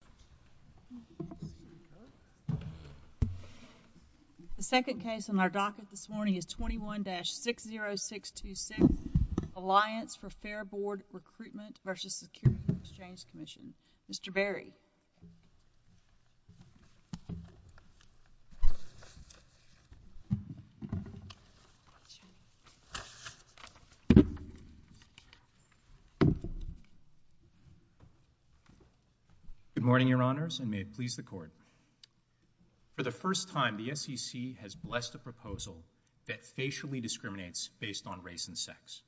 Mr. Berry. Good morning. For the first time, the SEC has blessed a proposal that facially discriminates based on race and sex.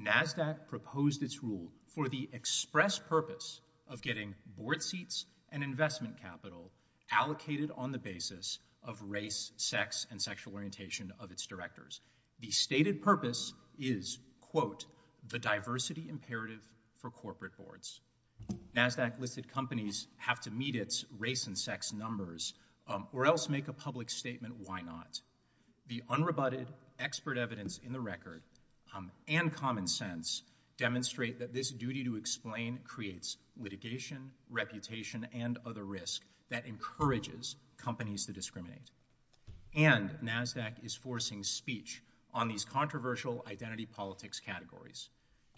NASDAQ proposed its rule for the express purpose of getting board seats and investment capital allocated on the basis of race, sex, and sexual orientation of its directors. The stated purpose is, quote, the diversity imperative for corporate boards. NASDAQ listed companies have to meet its race and sex numbers or else make a public statement why not. The unrebutted expert evidence in the record and common sense demonstrate that this duty to explain creates litigation, reputation, and other risk that encourages companies to discriminate. And NASDAQ is forcing speech on these controversial identity politics categories,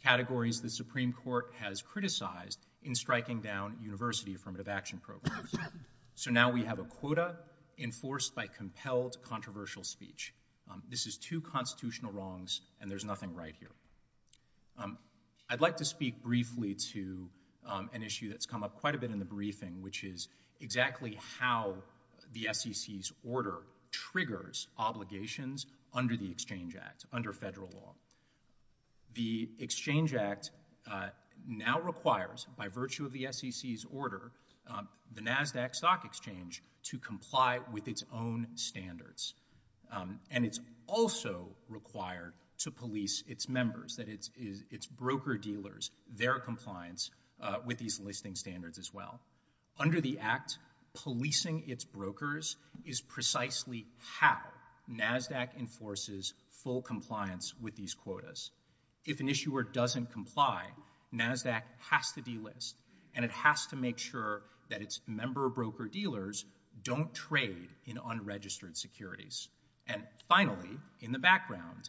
categories the in striking down university affirmative action programs. So now we have a quota enforced by compelled controversial speech. This is two constitutional wrongs and there's nothing right here. I'd like to speak briefly to an issue that's come up quite a bit in the briefing, which is exactly how the SEC's order triggers obligations under the Exchange Act, under federal law. The Exchange Act now requires, by virtue of the SEC's order, the NASDAQ Stock Exchange to comply with its own standards. And it's also required to police its members, that is, its broker dealers, their compliance with these listing standards as well. Under the Act, policing its brokers is precisely how NASDAQ enforces full compliance with these quotas. If an issuer doesn't comply, NASDAQ has to delist and it has to make sure that its member broker dealers don't trade in unregistered securities. And finally, in the background,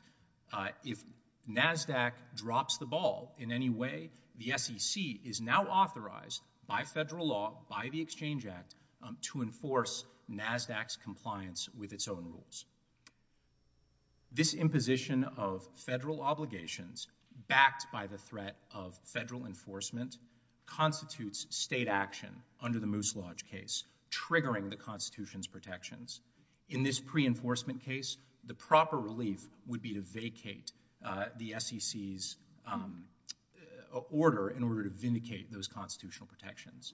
if NASDAQ drops the ball in any way, the SEC is now authorized by federal law, by the Exchange Act, to enforce NASDAQ's compliance with its own rules. This imposition of federal obligations, backed by the threat of federal enforcement, constitutes state action under the Moose Lodge case, triggering the Constitution's protections. In this pre-enforcement case, the proper relief would be to vacate the SEC's order in order to vindicate those constitutional protections.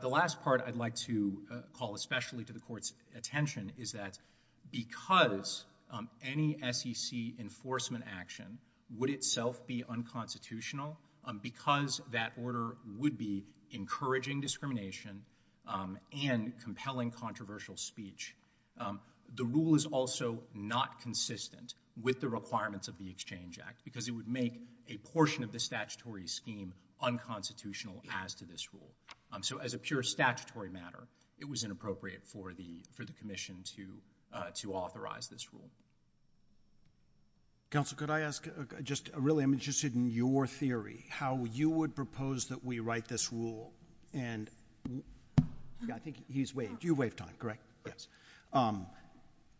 The last part I'd like to call especially to the Court's attention is that because any SEC enforcement action would itself be unconstitutional, because that order would be encouraging discrimination and compelling controversial speech, the rule is also not consistent with the requirements of the Exchange Act, because it would make a portion of the statutory scheme unconstitutional as to this rule. So as a pure statutory matter, it was inappropriate for the Commission to authorize this rule. Counsel, could I ask, just really, I'm interested in your theory, how you would propose that we write this rule, and I think he's waiting, you waived on it, correct? Yes.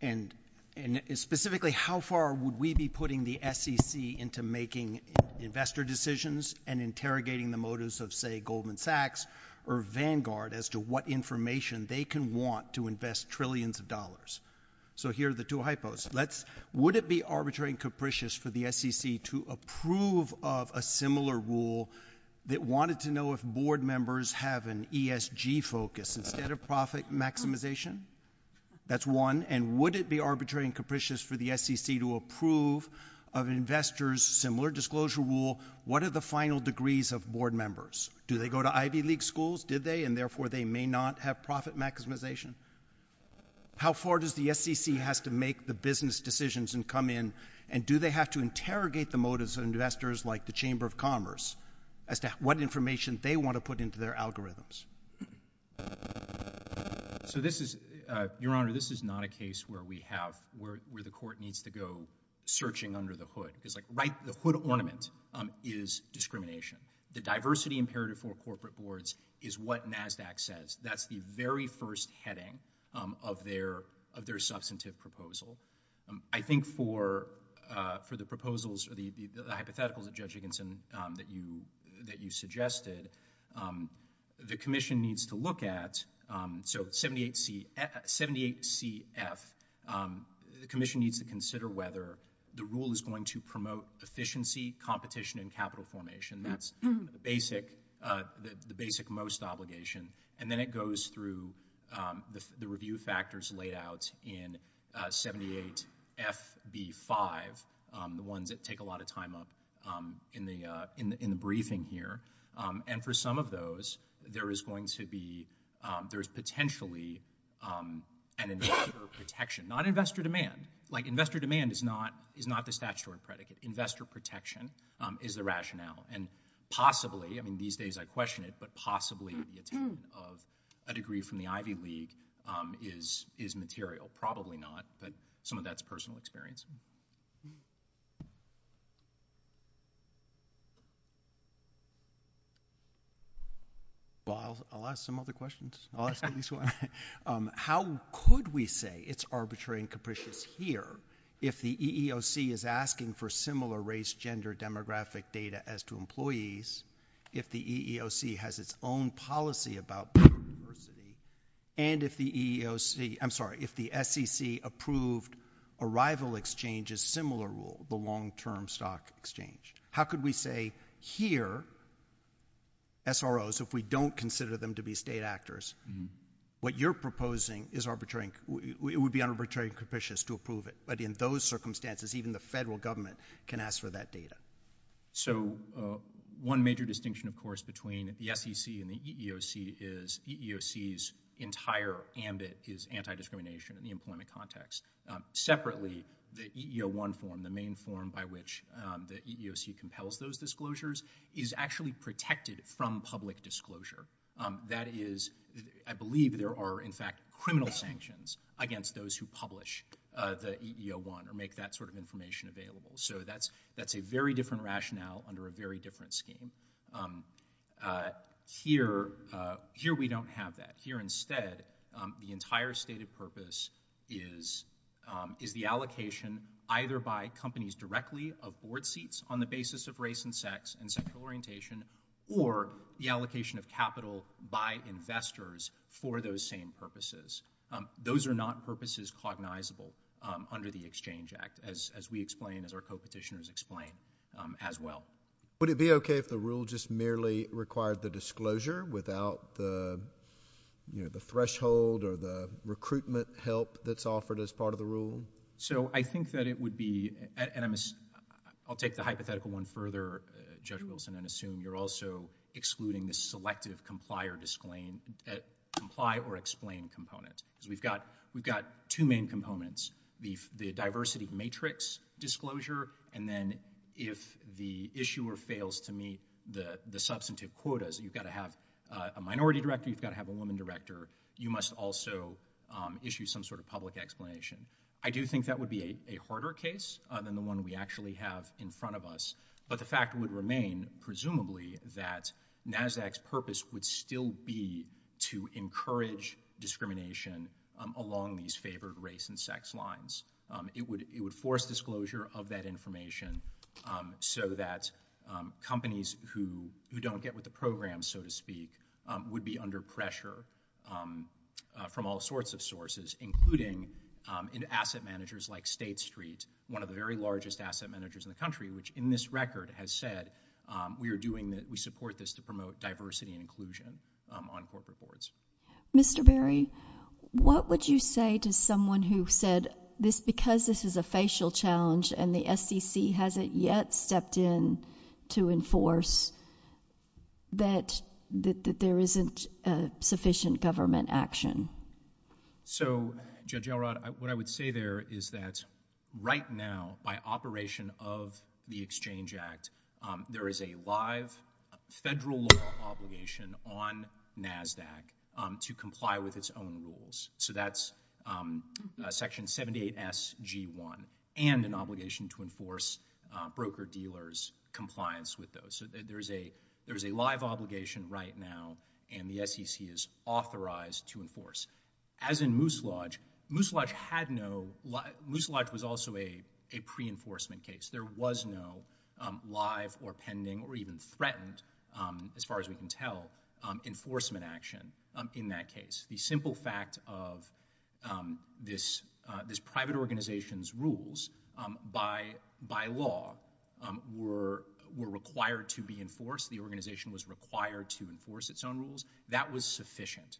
And specifically, how far would we be putting the SEC into making investor decisions and say Goldman Sachs or Vanguard as to what information they can want to invest trillions of dollars? So here are the two hypotheses. Would it be arbitrary and capricious for the SEC to approve of a similar rule that wanted to know if board members have an ESG focus, a set of profit maximization? That's one. And would it be arbitrary and capricious for the SEC to approve of investors' similar disclosure rule, what are the final degrees of board members? Do they go to Ivy League schools, did they, and therefore they may not have profit maximization? How far does the SEC have to make the business decisions and come in, and do they have to interrogate the motives of investors like the Chamber of Commerce as to what information they want to put into their algorithms? So this is, Your Honor, this is not a case where we have, where the court needs to go searching under the hood, because like right, the hood ornament is discrimination. The diversity imperative for corporate boards is what NASDAQ says, that's the very first heading of their substantive proposal. I think for the proposals or the hypotheticals of Judge Higginson that you suggested, the rule is going to promote efficiency, competition, and capital formation, that's the basic most obligation, and then it goes through the review factors layout in 78FB5, the ones that take a lot of time up in the briefing here. And for some of those, there is going to be, there is potentially an investor protection, not investor demand, like investor demand is not the statutory predicate, investor protection is the rationale, and possibly, I mean these days I question it, but possibly the attainment of a degree from the Ivy League is material, probably not, but some of that's personal experience. I'll ask some other questions. How could we say it's arbitrary and capricious here, if the EEOC is asking for similar race, gender, demographic data as to employees, if the EEOC has its own policy about diversity, and if the EEOC, I'm sorry, if the SEC approved arrival exchanges similar rule, the long-term stock exchange, how could we say here, SROs, if we don't consider them to be state actors, what you're proposing is arbitrary, it would be arbitrary and capricious to approve it, but in those circumstances, even the federal government can ask for that data. So, one major distinction, of course, between the SEC and the EEOC is EEOC's entire ambit is anti-discrimination in the employment context. Separately, the EEO1 form, the main form by which the EEOC compels those disclosures, is actually protected from public disclosure, that is, I believe there are, in fact, criminal sanctions against those who publish the EEO1 or make that sort of information available, so that's a very different rationale under a very different scheme. Here, we don't have that. Here, instead, the entire stated purpose is the allocation either by companies directly of board seats on the basis of race and sex and sexual orientation, or the allocation of capital by investors for those same purposes. Those are not purposes cognizable under the Exchange Act, as we explain, as our co-petitioners explain, as well. Would it be okay if the rule just merely required the disclosure without the threshold or the recruitment help that's offered as part of the rule? So, I think that it would be, and I'll take the hypothetical one further, Judge Wilson, and assume you're also excluding the selective comply or explain components. We've got two main components, the diversity matrix disclosure, and then if the issuer fails to meet the substantive quotas, you've got to have a minority director, you've got to have a woman director, you must also issue some sort of public explanation. I do think that would be a harder case than the one we actually have in front of us, but the fact would remain, presumably, that NASDAQ's purpose would still be to encourage discrimination along these favored race and sex lines. It would force disclosure of that information so that companies who don't get with the program, so to speak, would be under pressure from all sorts of sources, including in asset managers like State Street, one of the very largest asset managers in the country, which in this record has said, we are doing, we support this to promote diversity and inclusion on corporate boards. Mr. Berry, what would you say to someone who said, because this is a facial challenge and the SEC hasn't yet stepped in to enforce, that there isn't sufficient government action? So, Judge Elrod, what I would say there is that right now, by operation of the Exchange Act, there is a live federal law obligation on NASDAQ to comply with its own rules. So that's Section 78SG1 and an obligation to enforce broker-dealers' compliance with those. There's a live obligation right now, and the SEC is authorized to enforce. As in Moose Lodge, Moose Lodge had no, Moose Lodge was also a pre-enforcement case. There was no live or pending or even threatened, as far as we can tell, enforcement action in that case. The simple fact of this private organization's rules by law were required to be enforced, the organization was required to enforce its own rules, that was sufficient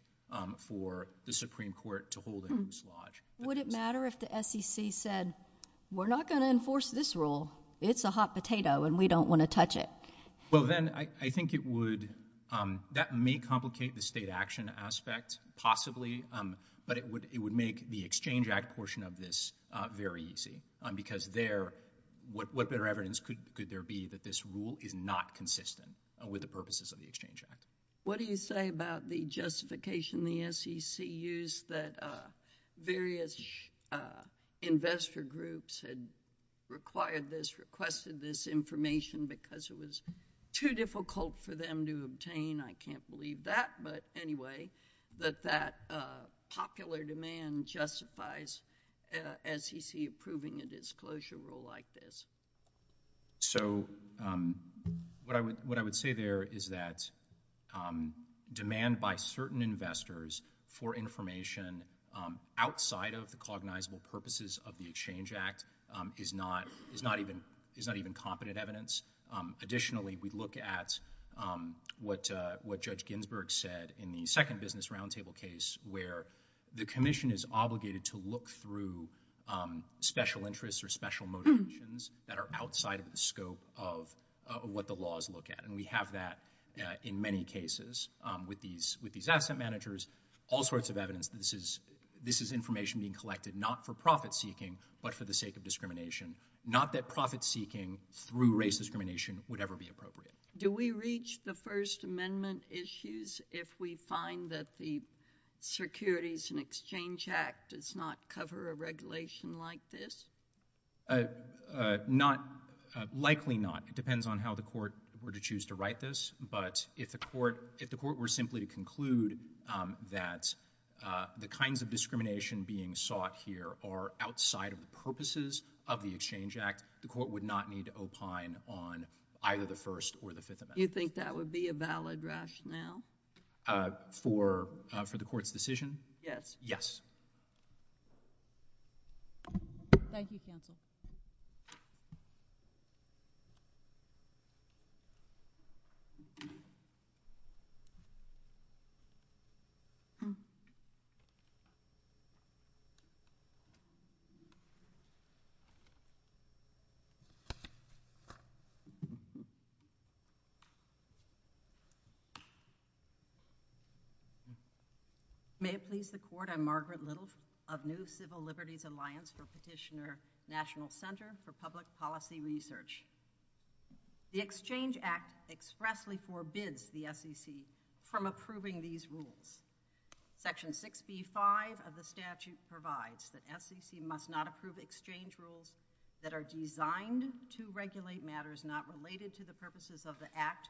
for the Supreme Court to hold in Moose Lodge. Would it matter if the SEC said, we're not going to enforce this rule, it's a hot potato and we don't want to touch it? Well, then I think it would, that may complicate the state action aspect, possibly, but it would make the Exchange Act portion of this very easy, because there, what better evidence could there be that this rule is not consistent with the purposes of the Exchange Act? What do you say about the justification the SEC used that various investor groups had required this, requested this information because it was too difficult for them to obtain? I can't believe that, but anyway, that that popular demand justifies SEC approving a disclosure rule like this. So what I would say there is that demand by certain investors for information outside of the cognizable purposes of the Exchange Act is not even competent evidence. Additionally, we look at what Judge Ginsburg said in the second business roundtable case where the commission is obligated to look through special interests or special motivations that are outside of the scope of what the laws look at, and we have that in many cases with these asset managers, all sorts of evidence that this is information being collected not for profit-seeking, but for the sake of discrimination. Not that profit-seeking through race discrimination would ever be appropriate. Do we reach the First Amendment issues if we find that the Securities and Exchange Act does not cover a regulation like this? Not, likely not. It depends on how the court were to choose to write this, but if the court were simply to conclude that the kinds of discrimination being sought here are outside of the purposes of the Exchange Act, the court would not need to opine on either the First or the Fifth Amendment. Do you think that would be a valid rationale? For the court's decision? Yes. Yes. Thank you, counsel. Thank you. May it please the Court, I'm Margaret Little of New Civil Liberties Alliance for Petitioner National Center for Public Policy Research. The Exchange Act expressly forbids the SEC from approving these rules. Section 65 of the statute provides that SEC must not approve exchange rules that are designed to regulate matters not related to the purposes of the Act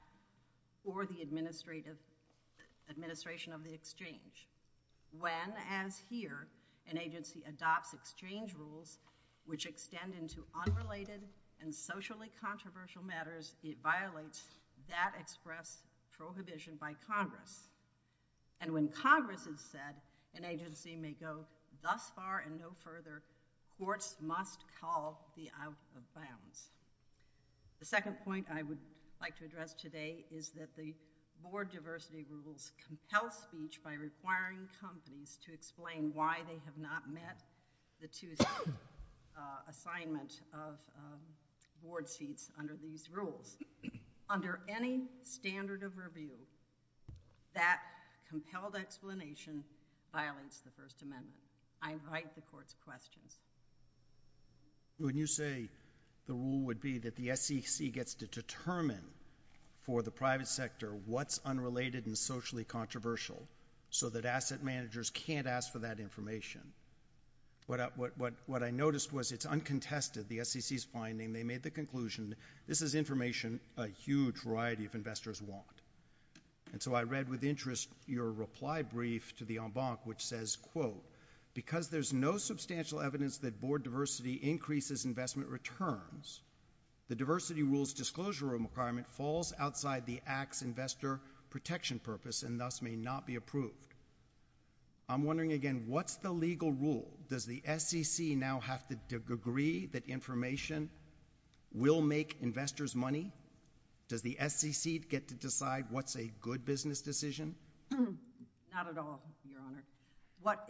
or the administration of the exchange. When, as here, an agency adopts exchange rules which extend into unrelated and socially controversial matters, it violates that express provision by Congress. And when Congress has said an agency may go thus far and no further, courts must call the out of bounds. The second point I would like to address today is that the board diversity rules compel speech by requiring companies to explain why they have not met the two assignments of board sheets under these rules. Under any standard of review, that compelled explanation violates the First Amendment. I invite the Court's questions. When you say the rule would be that the SEC gets to determine for the private sector what's so that asset managers can't ask for that information, what I noticed was it's uncontested, the SEC's finding. They made the conclusion this is information a huge variety of investors want. And so I read with interest your reply brief to the en banc which says, quote, because there's no substantial evidence that board diversity increases investment returns, the diversity rules disclosure requirement falls outside the Act's investor protection purpose and thus may not be approved. I'm wondering again, what's the legal rule? Does the SEC now have to agree that information will make investors money? Does the SEC get to decide what's a good business decision? Not at all, Your Honor. What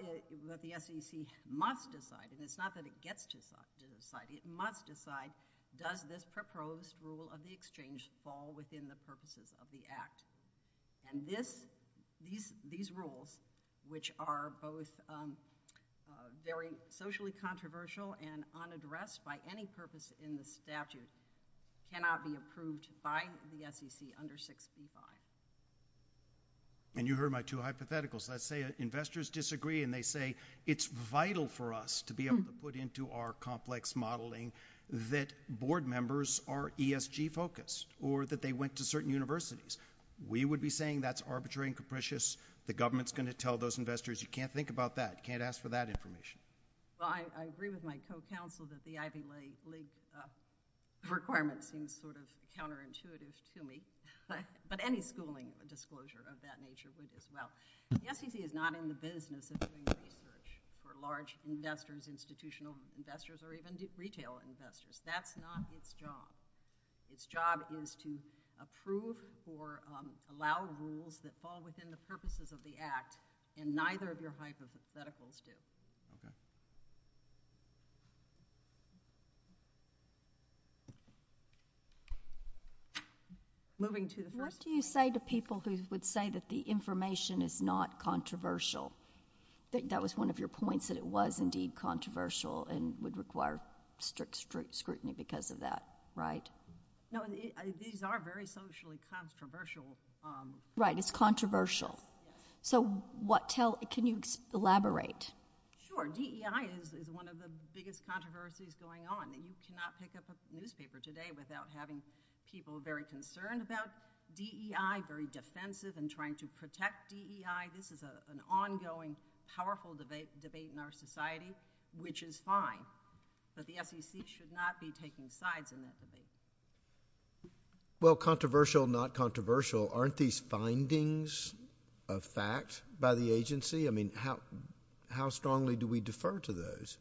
the SEC must decide, and it's not that it gets to decide, it must decide, does this proposed rule of the exchange fall within the purposes of the Act? And these rules, which are both very socially controversial and unaddressed by any purpose in the statute, cannot be approved by the SEC under 65. And you heard my two hypotheticals. Let's say investors disagree and they say it's vital for us to be able to put into our complex modeling that board members are ESG focused or that they went to certain universities. We would be saying that's arbitrary and capricious. The government's going to tell those investors, you can't think about that. You can't ask for that information. Well, I agree with my co-counsel that the Ivy League requirements seem sort of counterintuitive to me, but any schooling disclosure of that nature would as well. So the SEC is not in the business of doing research for large investors, institutional investors, or even retail investors. That's not its job. Its job is to approve or allow rules that fall within the purposes of the Act, and neither of your hypotheticals did. Moving to the first question. What do you say to people who would say that the information is not controversial? That was one of your points, that it was indeed controversial and would require strict scrutiny because of that. Right. No, these are very socially controversial. Right. It's controversial. So can you elaborate? Sure. DEI is one of the biggest controversies going on. You cannot pick up a newspaper today without having people very concerned about DEI, very defensive in trying to protect DEI. This is an ongoing, powerful debate in our society, which is fine. But the SEC should not be taking sides in this debate. Well, controversial, not controversial. Aren't these findings of facts by the agency? I mean, how strongly do we defer to those?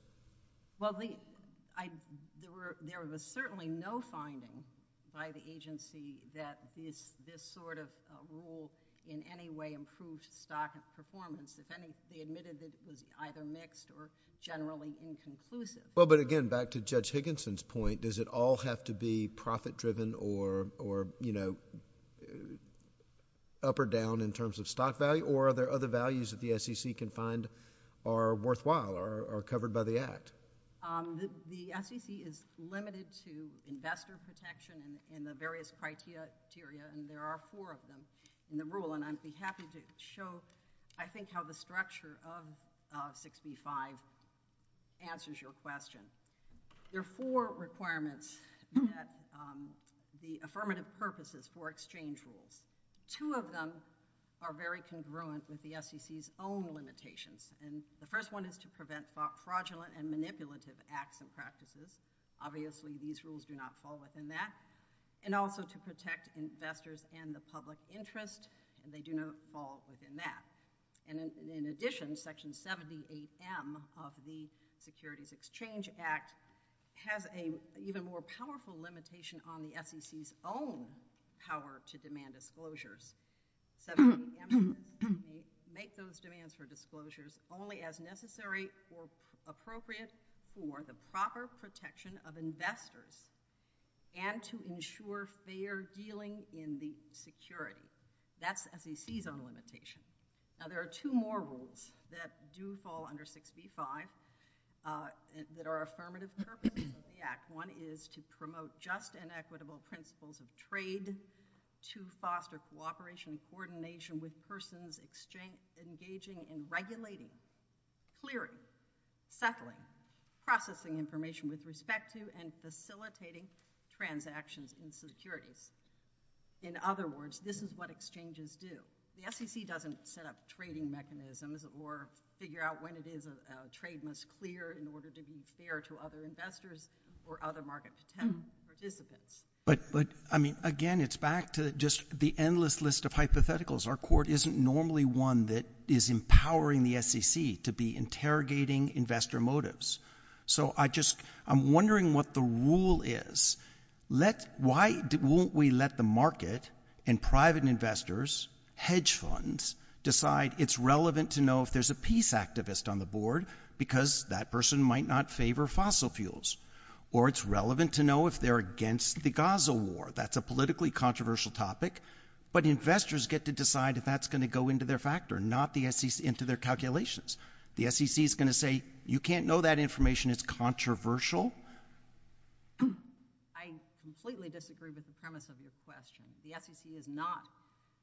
Well, there were certainly no findings by the agency that this sort of rule in any way improves stock performance. The SEC admitted that it was either mixed or generally inconclusive. Well, but again, back to Judge Higginson's point, does it all have to be profit-driven or, you know, up or down in terms of stock value? Or are there other values that the SEC can find are worthwhile or covered by the act? The SEC is limited to investor protection in the various criteria, and there are four of them in the rule. And I'd be happy to show, I think, how the structure of 65 answers your question. There are four requirements that the affirmative purposes for exchange rules. Two of them are very congruent with the SEC's own limitations. And the first one is to prevent fraudulent and manipulative acts and practices. Obviously, these rules do not fall within that. And also to protect investors and the public interest, and they do not fall within that. And in addition, Section 78M of the Securities Exchange Act has an even more powerful limitation on the SEC's own power to demand disclosures. Section 78 makes those demands for disclosures only as necessary or appropriate for the proper protection of investors and to ensure fair dealing in the securities. That's a SEC's own limitation. Now, there are two more rules that do fall under 65 that are affirmative purposes of the act. One is to promote just and equitable principles of trade, to foster cooperation and coordination with persons engaging in regulating, clearing, settling, processing information with respect to and facilitating transactions in securities. In other words, this is what exchanges do. The SEC doesn't set up trading mechanisms or figure out when it is a trade must clear in order to be fair to other investors or other market participants. But, I mean, again, it's back to just the endless list of hypotheticals. Our Court isn't normally one that is empowering the SEC to be interrogating investor motives. So I just, I'm wondering what the rule is. Let, why won't we let the market and private investors, hedge funds, decide it's relevant to know if there's a peace activist on the board because that person might not favor fossil fuels, or it's relevant to know if they're against the Gaza war. That's a politically controversial topic, but investors get to decide if that's going to go into their factor, not the SEC, into their calculations. The SEC is going to say, you can't know that information. It's controversial. I completely disagree with the premise of this question. The SEC is not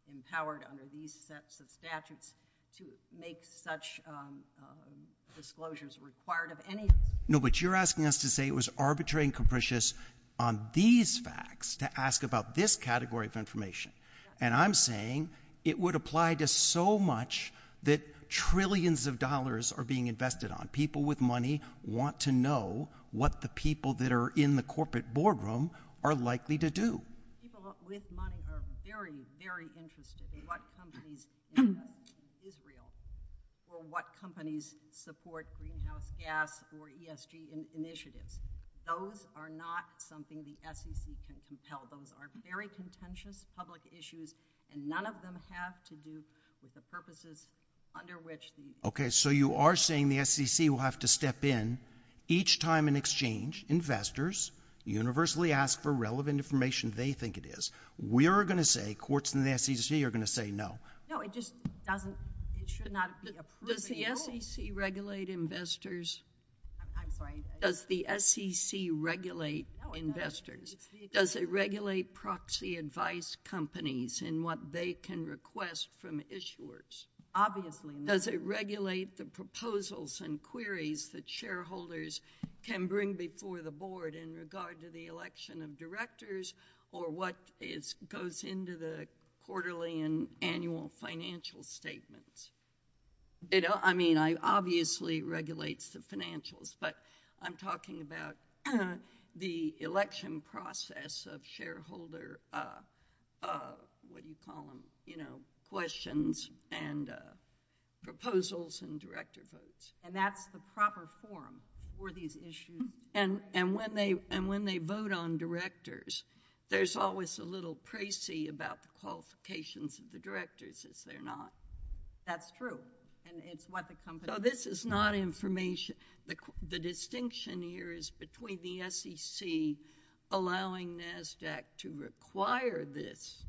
empowered under these sets of statutes to make such disclosures required of any. No, but you're asking us to say it was arbitrary and capricious on these facts to ask about this category of information. And I'm saying it would apply to so much that trillions of dollars are being invested on. People with money want to know what the people that are in the corporate boardroom are likely to do. People with money are very, very interested in what companies invest in Israel or what ESG initiatives. Those are not something the SEC can tell. Those are very contentious public issues, and none of them have to do with the purposes under which. OK, so you are saying the SEC will have to step in each time in exchange. Investors universally ask for relevant information. They think it is. We are going to say courts in the SEC are going to say no. No, it just doesn't. It should not. Does the SEC regulate investors? Does the SEC regulate investors? Does it regulate proxy advice companies in what they can request from issuers? Obviously not. Does it regulate the proposals and queries that shareholders can bring before the board in regard to the election of directors or what goes into the quarterly and annual financial statements? I mean, obviously it regulates the financials, but I'm talking about the election process of shareholder, what do you call them, questions and proposals and director votes. And that's the proper form for these issues. And when they vote on directors, there's always a little praise about the qualifications of the directors if they're not. That's true. So this is not information. The distinction here is between the SEC allowing NASDAQ to require this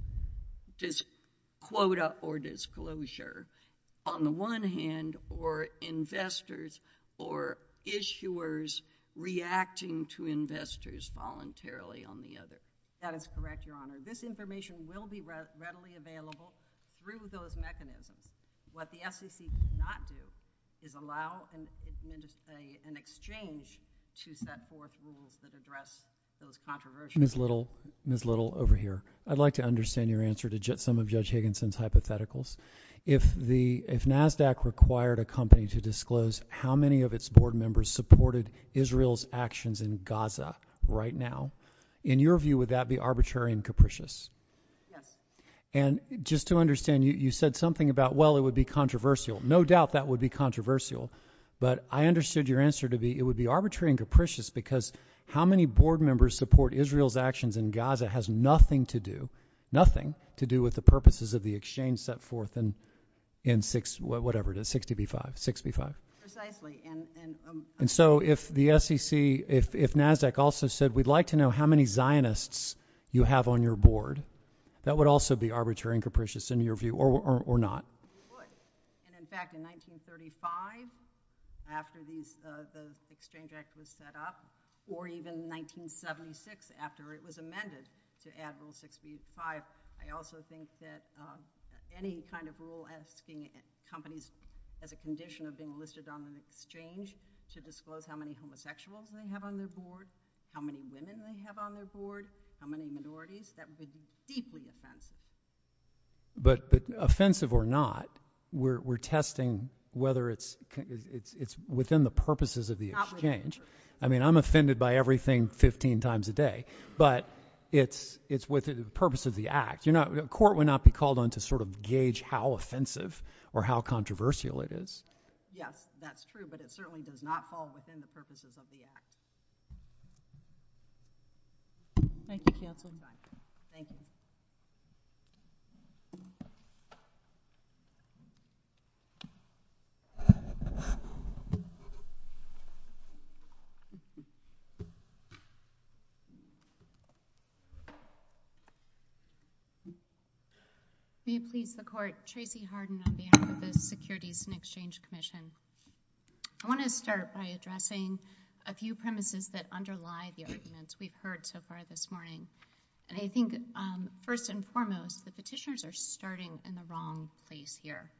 quota or disclosure on the one hand or investors or issuers reacting to investors voluntarily on the other. That is correct, Your Honor. This information will be readily available through those mechanisms. What the SEC did not do is allow an exchange to set forth rules that address those controversies. Ms. Little, over here. I'd like to understand your answer to some of Judge Higginson's hypotheticals. If NASDAQ required a company to disclose how many of its board members supported Israel's actions in Gaza right now, in your view, would that be arbitrary and capricious? Yes. And just to understand, you said something about, well, it would be controversial. No doubt that would be controversial. But I understood your answer to be it would be arbitrary and capricious because how many board members support Israel's actions in Gaza has nothing to do, nothing to do with the purposes of the exchange set forth in whatever it is, 6B5, 6B5. Precisely. And so if the SEC, if NASDAQ also said, we'd like to know how many Zionists you have on your board, that would also be arbitrary and capricious, in your view, or not? It would. And in fact, in 1935, after the Exchange Act was set up, or even in 1976, after it was amended to add little 6B5, I also think that any kind of rule asking companies at the condition of being listed on the exchange to disclose how many homosexuals they have on their board, how many women they have on their board, how many minorities, that would be deeply offensive. But offensive or not, we're testing whether it's within the purposes of the exchange. I mean, I'm offended by everything 15 times a day. But it's within the purpose of the act. You know, a court would not be called on to sort of gauge how offensive or how controversial it is. Yes, that's true. But it certainly does not fall within the purposes of the act. Thank you, Chair, for your time. Thank you. May it please the Court, Tracy Harden of the Americas Securities and Exchange Commission. I want to start by addressing a few premises that underlie the arguments we've heard so far this morning. And I think, first and foremost, the petitions are starting in the wrong place here.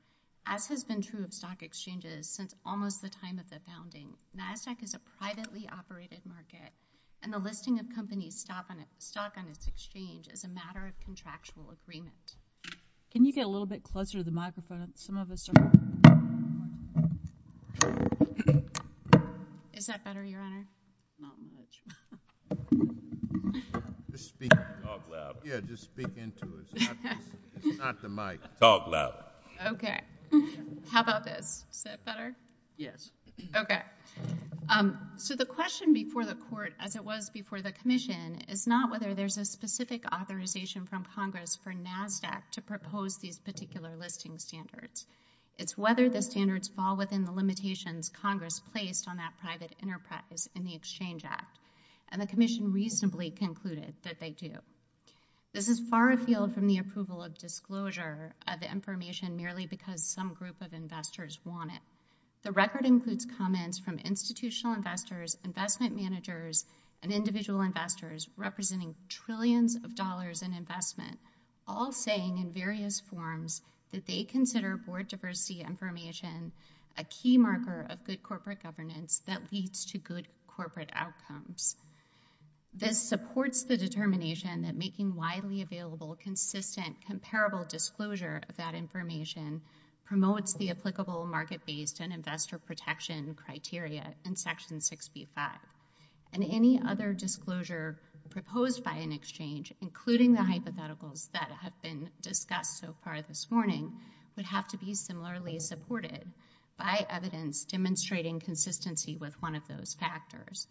As has been true of stock exchanges since almost the time of the founding, NASDAQ is a privately operated market. And the listing of companies' stock on its exchange is a matter of contractual agreement. Can you get a little bit closer to the microphone? Is that better, Your Honor? Just speak dog loud. Yeah, just speak into it. It's not the mic. Dog loud. Okay. How about this? Is that better? Yes. Okay. So the question before the Court, as it was before the Commission, is not whether there's a specific authorization from Congress for NASDAQ to propose these particular listing standards. It's whether the standards fall within the limitations Congress placed on that private enterprise in the Exchange Act. And the Commission reasonably concluded that they do. This is far afield from the approval of disclosure of the information merely because some group of investors want it. The record includes comments from institutional investors, investment managers, and individual investors representing trillions of dollars in investment, all saying in various forms that they consider board diversity information a key marker of good corporate governance that leads to good corporate outcomes. This supports the determination that making widely available, consistent, comparable disclosure of that information promotes the applicable market-based and investor protection criteria in Section 65. And any other disclosure proposed by an exchange, including the hypotheticals that have been discussed so far this morning, would have to be similarly supported by evidence demonstrating consistency with one of those factors.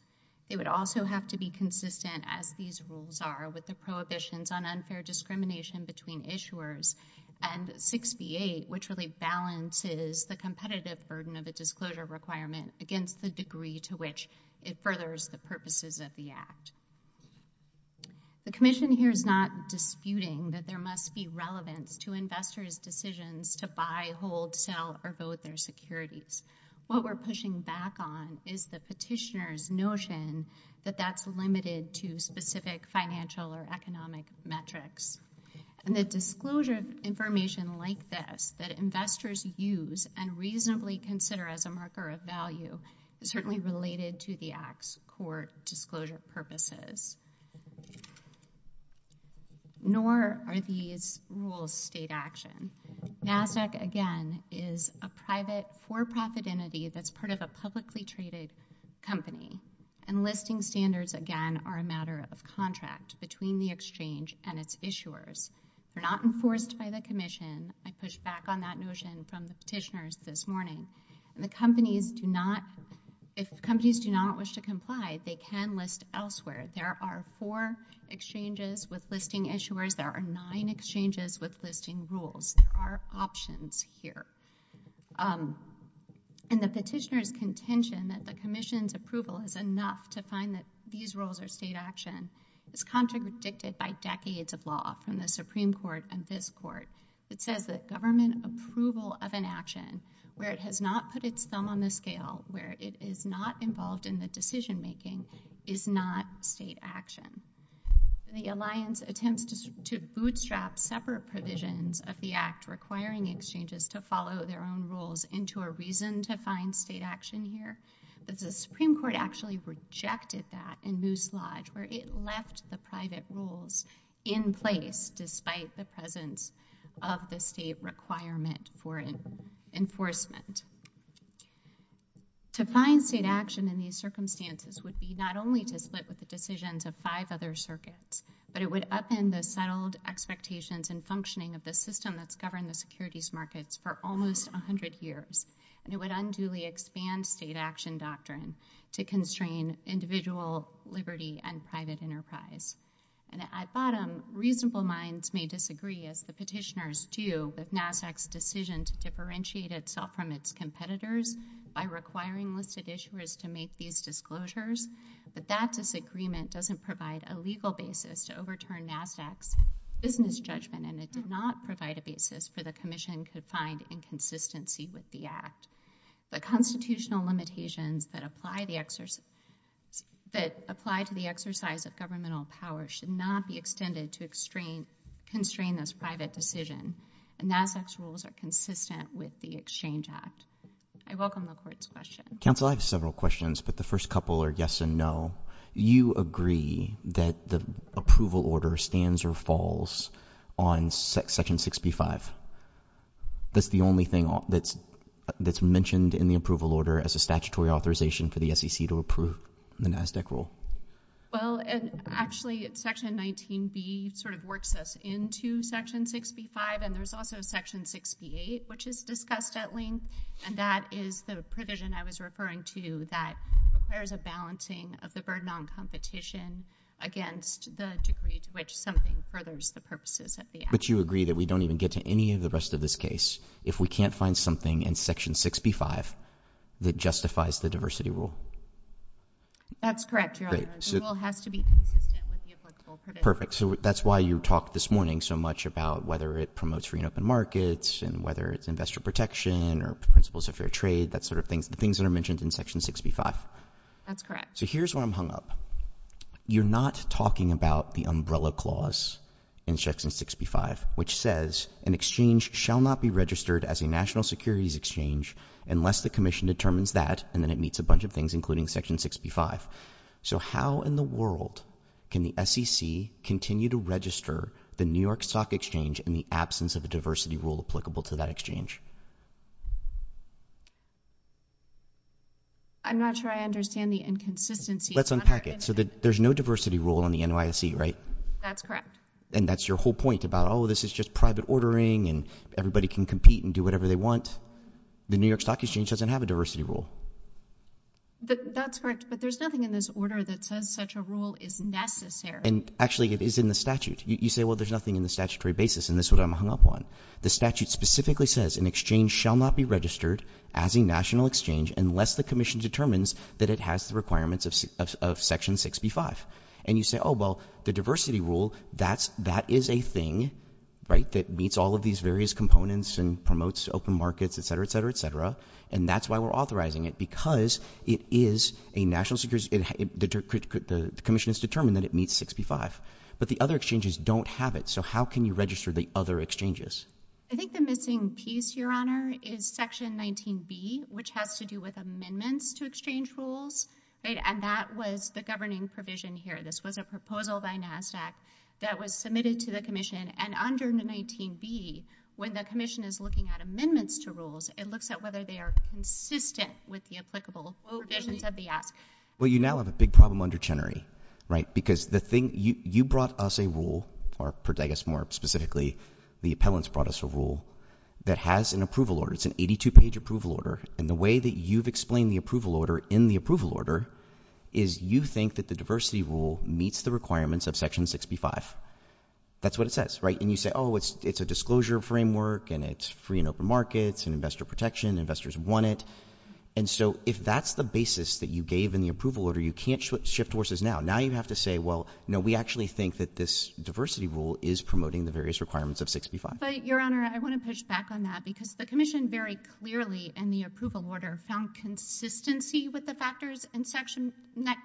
It would also have to be consistent, as these rules are, with the prohibitions on unfair discrimination between issuers and 68, which really balances the competitive burden of disclosure requirement against the degree to which it furthers the purposes of the Act. The Commission here is not disputing that there must be relevance to investors' decisions to buy, hold, sell, or vote their securities. What we're pushing back on is the petitioner's notion that that's limited to specific financial or economic metrics. And that disclosure information like this that investors use and reasonably consider as a marker of value is certainly related to the Act's core disclosure purposes. Nor are these rules state action. NASAC, again, is a private for-profit entity that's part of a publicly traded company. And listing standards, again, are a matter of contract between the exchange and its issuers. They're not enforced by the Commission. I push back on that notion from the petitioners this morning. And if companies do not wish to comply, they can list elsewhere. There are four exchanges with listing issuers. There are nine exchanges with listing rules. There are options here. And the petitioner's contention that the Commission's approval is enough to find that these rules are state action is contradicted by decades of law from the Supreme Court and this Court. It says that government approval of an action where it has not put its thumb on the scale, where it is not involved in the decision-making, is not state action. The Alliance attempts to bootstrap separate provisions of the Act requiring exchanges to follow their own rules into a reason to find state action here. But the Supreme Court actually rejected that in this slide where it left the private rules in place despite the presence of the state requirement for enforcement. To find state action in these circumstances would be not only to split the decisions of five other circuits, but it would upend the settled expectations and functioning of the system that's governed the securities markets for almost 100 years. And it would unduly expand state action doctrine to constrain individual liberty and private enterprise. And at bottom, reasonable minds may disagree, as the petitioners do, with NABDAC's decision to differentiate itself from its competitors by requiring listed issuers to make these disclosures. But that disagreement doesn't provide a legal basis to overturn NABDAC's business judgment. And it did not provide a basis for the commission to find inconsistency with the Act. The constitutional limitations that apply to the exercise of governmental power should not be extended to constrain this private decision. The NABDAC's rules are consistent with the Exchange Act. I welcome the Court's question. Counsel, I have several questions, but the first couple are yes and no. You agree that the approval order stands or falls on Section 65. That's the only thing that's mentioned in the approval order as a statutory authorization for the SEC to approve the NABDAC rule. Well, actually, Section 19b sort of works us into Section 65. And there's also Section 68, which is discussed at length. And that is the provision I was referring to that requires a balancing of the burden on competition against the degree to which something furthers the purposes of the Act. But you agree that we don't even get to any of the rest of this case if we can't find something in Section 65 that justifies the diversity rule? That's correct, Your Honor. The rule has to be consistent with the applicable provisions. Perfect. So that's why you talked this morning so much about whether it promotes free and open markets and whether it's investor protection or principles of fair trade, the things that are mentioned in Section 65. That's correct. So here's where I'm hung up. You're not talking about the umbrella clause in Section 65, which says, an exchange shall not be registered as a national securities exchange unless the Commission determines that, and then it meets a bunch of things, including Section 65. So how in the world can the SEC continue to register the New York Stock Exchange in the absence of a diversity rule applicable to that exchange? I'm not sure I understand the inconsistency. Let's unpack it. So there's no diversity rule on the NYSE, right? That's correct. And that's your whole point about, oh, this is just private ordering and everybody can compete and do whatever they want. The New York Stock Exchange doesn't have a diversity rule. That's correct. But there's nothing in this order that says such a rule is necessary. And actually, it is in the statute. You say, well, there's nothing in the statutory basis. And this is what I'm hung up on. The statute specifically says, an exchange shall not be registered as a national exchange unless the Commission determines that it has the requirements of Section 65. And you say, oh, well, the diversity rule, that is a thing, right, that meets all of these various components and promotes open markets, et cetera, et cetera, et cetera. And that's why we're authorizing it, because it is a national security. The Commission has determined that it meets 65. But the other exchanges don't have it. So how can you register the other exchanges? I think the missing piece, Your Honor, is Section 19b, which has to do with amendments to exchange rules. And that was the governing provision here. This was a proposal by NASSAC that was submitted to the Commission. And under the 19b, when the Commission is looking at amendments to rules, it looks at whether they are consistent with the applicable provisions of the Act. Well, you now have a big problem under Chenery, right? Because the thing, you brought us a rule, or, I guess, more specifically, the appellants brought us a rule that has an approval order. It's an 82-page approval order. And the way that you've explained the approval order in the approval order is you think that the diversity rule meets the requirements of Section 65. That's what it says, right? And you say, oh, it's a disclosure framework, and it's free and open markets and investor protection. Investors want it. And so if that's the basis that you gave in the approval order, you can't shift horses now. Now you have to say, well, we actually think that this diversity rule is promoting the various requirements of 65. But, Your Honor, I want to push back on that, because the Commission very clearly in the approval order found consistency with the factors in Section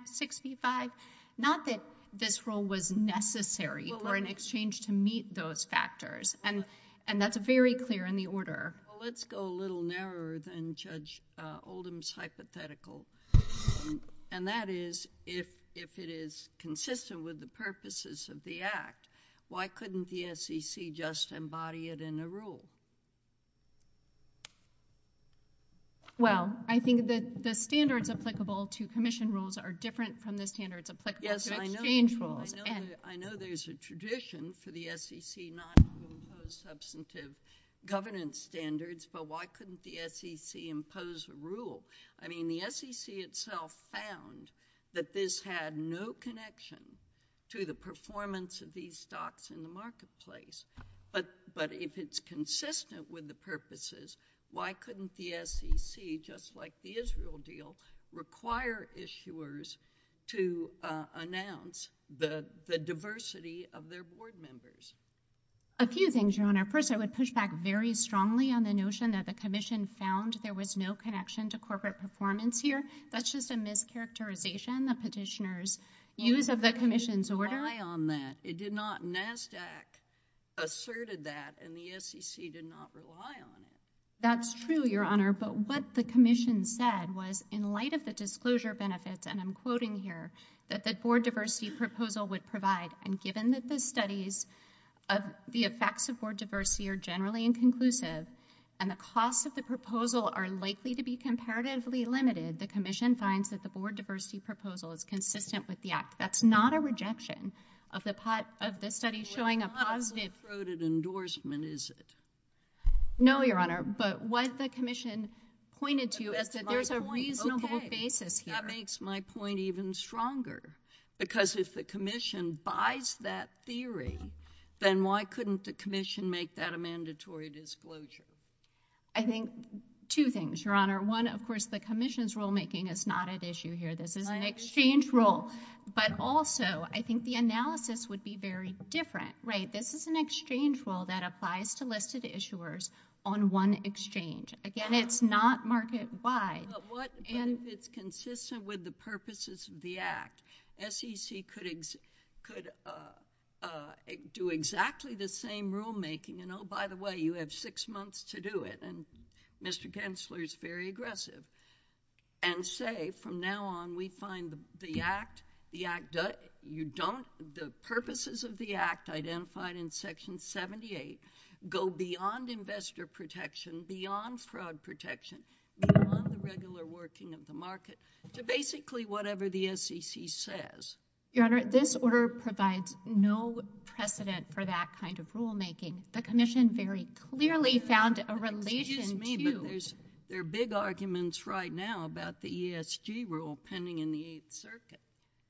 65. Not that this rule was necessary for an exchange to meet those factors. And that's very clear in the order. Let's go a little narrower than Judge Oldham's hypothetical. And that is, if it is consistent with the purposes of the Act, why couldn't the SEC just embody it in a rule? Well, I think that the standards applicable to Commission rules are different from the standards applicable to exchange rules. Yes, I know there's a tradition for the SEC not to impose substantive governance standards. But why couldn't the SEC impose a rule? I mean, the SEC itself found that this had no connection to the performance of these stocks in the marketplace. But if it's consistent with the purposes, why couldn't the SEC, just like the Israel deal, require issuers to announce the diversity of their board members? A few things, Your Honor. First, I would push back very strongly on the notion that the Commission found there was no connection to corporate performance here. That's just a mischaracterization of petitioners' views of the Commission's order. I didn't rely on that. It did not. NASDAQ asserted that, and the SEC did not rely on it. That's true, Your Honor. But what the Commission said was, in light of the disclosure benefits, and I'm quoting here, that the board diversity proposal would provide, and given that the studies of the effects of board diversity are generally inconclusive, and the costs of the proposal are likely to be comparatively limited, the Commission finds that the board diversity proposal is consistent with the act. That's not a rejection of the study showing a positive- It's not a recruited endorsement, is it? No, Your Honor, but what the Commission pointed to is that there's a reasonable basis here. That makes my point even stronger, because if the Commission buys that theory, then why couldn't the Commission make that a mandatory disclosure? I think two things, Your Honor. One, of course, the Commission's rulemaking is not at issue here. This is an exchange rule. But also, I think the analysis would be very different, right? This is an exchange rule that applies to listed issuers on one exchange. Again, it's not market-wide. But what if it's consistent with the purposes of the act? SEC could do exactly the same rulemaking, and oh, by the way, you have six months to do it, and Mr. Kensler is very aggressive, and say, from now on, we find the purposes of the act identified in Section 78 go beyond investor protection, beyond fraud protection, beyond the regular working of the market, to basically whatever the SEC says. Your Honor, this order provides no precedent for that kind of rulemaking. The Commission very clearly found a relation to... You mean that there are big arguments right now about the ESG rule pending in the Eighth Circuit?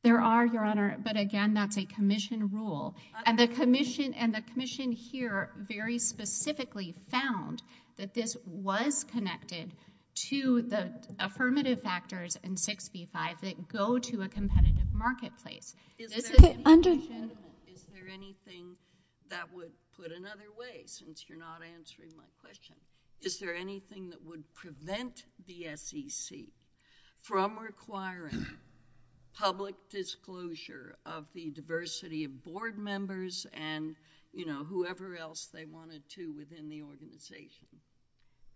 There are, Your Honor, but again, that's a Commission rule. And the Commission and the Commission here very specifically found that this was connected to the affirmative factors in 65 that go to a competitive marketplace. Is there anything that would, put another way, since you're not answering my question, is there anything that would prevent the SEC from requiring public disclosure of the diversity of board members and, you know, whoever else they wanted to within the organization?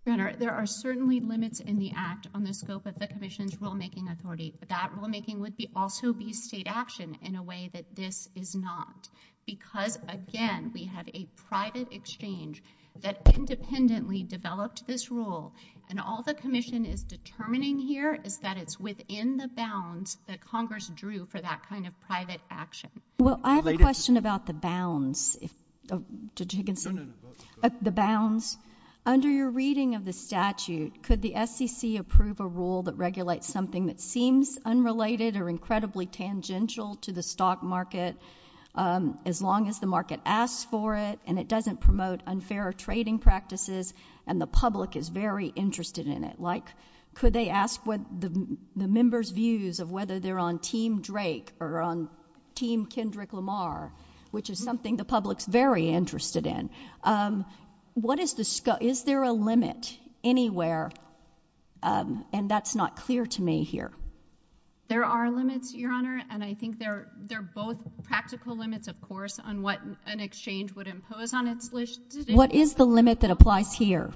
Your Honor, there are certainly limits in the act on the scope of the Commission's rulemaking authority, but that rulemaking would be also be state action in a way that this is not. Because, again, we had a private exchange that independently developed this rule, and all the Commission is determining here is that it's within the bounds that Congress drew for that kind of private action. Well, I have a question about the bounds. The bounds. Under your reading of the statute, could the SEC approve a rule that regulates something that seems unrelated or incredibly tangential to the stock market as long as the market asks for it and it doesn't promote unfair trading practices and the public is very interested in it? Like, could they ask what the members' views of whether they're on Team Drake or on Team Kendrick Lamar, which is something the public's very interested in. Is there a limit anywhere? And that's not clear to me here. There are limits, Your Honor, and I think they're both practical limits, of course, on what an exchange would impose on its solicitors. What is the limit that applies here?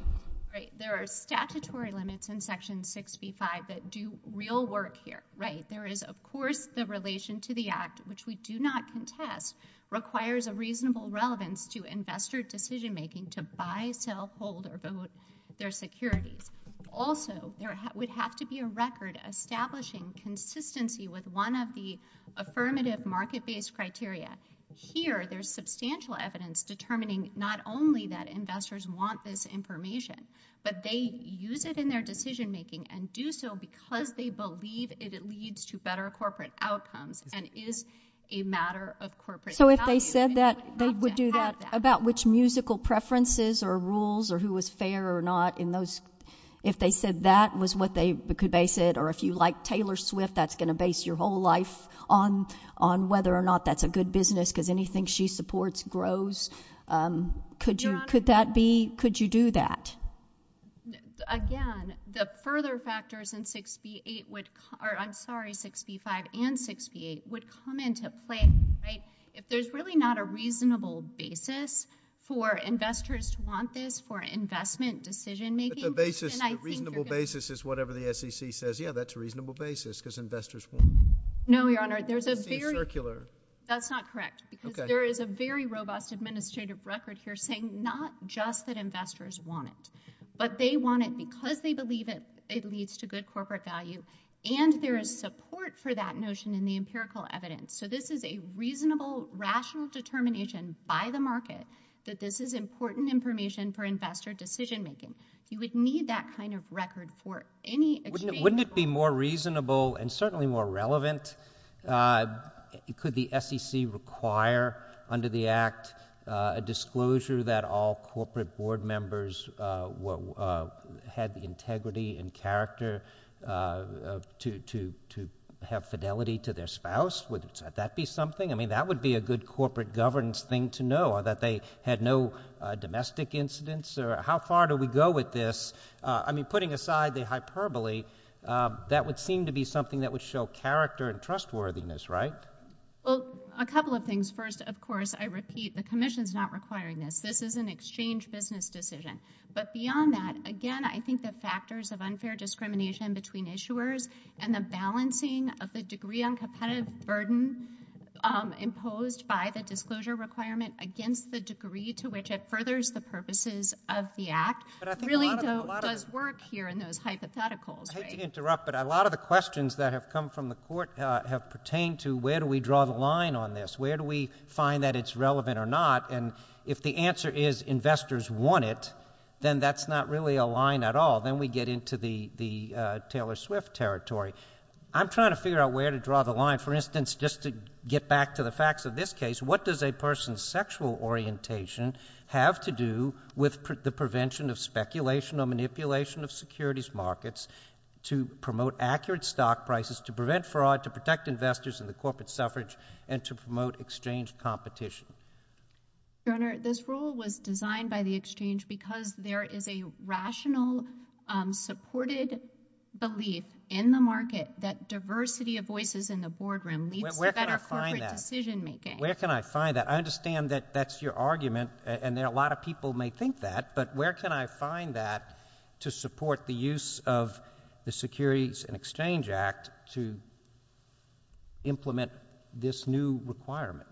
Right, there are statutory limits in Section 6b-5 that do real work here, right? There is, of course, the relation to the act, which we do not contest, requires a reasonable relevance to investor decision-making to buy, sell, hold, or vote their securities. Also, there would have to be a record establishing consistency with one of the affirmative market-based criteria. Here, there's substantial evidence determining not only that investors want this information, but they use it in their decision-making and do so because they believe it leads to better corporate outcomes and is a matter of corporate value. So if they said that they would do that about which musical preferences or rules or who was fair or not in those, if they said that was what they could base it, or if you like Taylor Swift, that's going to base your whole life on whether or not that's a good business because anything she supports grows. Could you do that? Again, the further factors in 6b-8 would, or I'm sorry, 6b-5 and 6b-8, would come into play. If there's really not a reasonable basis for investors to want this for investment decision-making... It's a basis, a reasonable basis is whatever the SEC says. Yeah, that's a reasonable basis because investors want it. No, Your Honor. That's not correct because there is a very robust administrative record here saying not just that investors want it, but they want it because they believe it leads to good corporate value and there is support for that notion in the empirical evidence. So this is a reasonable, rational determination by the market that this is important information for investor decision-making. You would need that kind of record for any exchange... Wouldn't it be more reasonable and certainly more relevant? Could the SEC require under the act a disclosure that all corporate board members had the integrity and character to have fidelity to their spouse? Would that be something? I mean, that would be a good corporate governance thing to know that they had no domestic incidents or how far do we go with this? I mean, putting aside the hyperbole, that would seem to be something that would show character and trustworthiness, right? Well, a couple of things. First, of course, I repeat, the commission is not requiring this. This is an exchange business decision. But beyond that, again, I think the factors of unfair discrimination between issuers and the balancing of the degree on competitive burden imposed by the disclosure requirement against the degree to which it furthers the purposes of the act really does work here in those hypotheticals. I hate to interrupt, but a lot of the questions that have come from the court have pertained to where do we draw the line on this? Where do we find that it's relevant or not? And if the answer is investors want it, then that's not really a line at all. Then we get into the Taylor Swift territory. I'm trying to figure out where to draw the line. For instance, just to get back to the facts of this case, what does a person's sexual orientation have to do with the prevention of speculation or manipulation of securities markets to promote accurate stock prices, to prevent fraud, to protect investors in the corporate suffrage, and to promote exchange competition? Your Honor, this rule was designed by the exchange because there is a rational, supported belief in the market that diversity of voices in the boardroom leads to better corporate decision-making. Where can I find that? I understand that that's your argument, and a lot of people may think that, but where can I find that to support the use of the Securities and Exchange Act to implement this new requirement?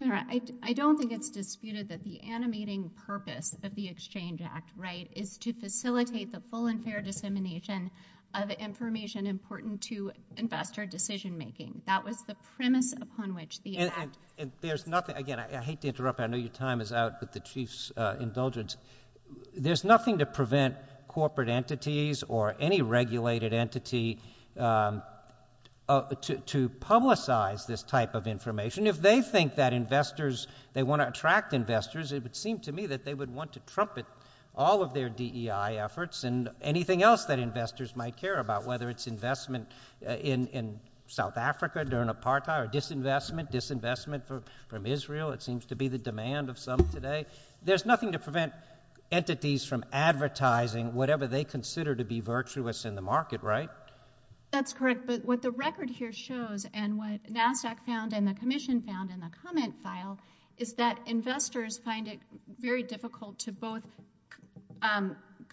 I don't think it's disputed that the animating purpose, but the Exchange Act, right, is to facilitate the full and fair dissemination of information important to investor decision-making. That was the premise upon which the act- And there's nothing, again, I hate to interrupt. I know your time is out with the Chief's indulgence. There's nothing to prevent corporate entities or any regulated entity to publicize this type of information. If they think that investors, they want to attract investors, it would seem to me that they would want to trumpet all of their DEI efforts and anything else that investors might care about, whether it's investment in South Africa during apartheid or disinvestment, disinvestment from Israel. It seems to be the demand of some today. There's nothing to prevent entities from advertising whatever they consider to be virtuous in the market, right? That's correct, but what the record here shows and what NASDAQ found and the Commission found in the comment file is that investors find it very difficult to both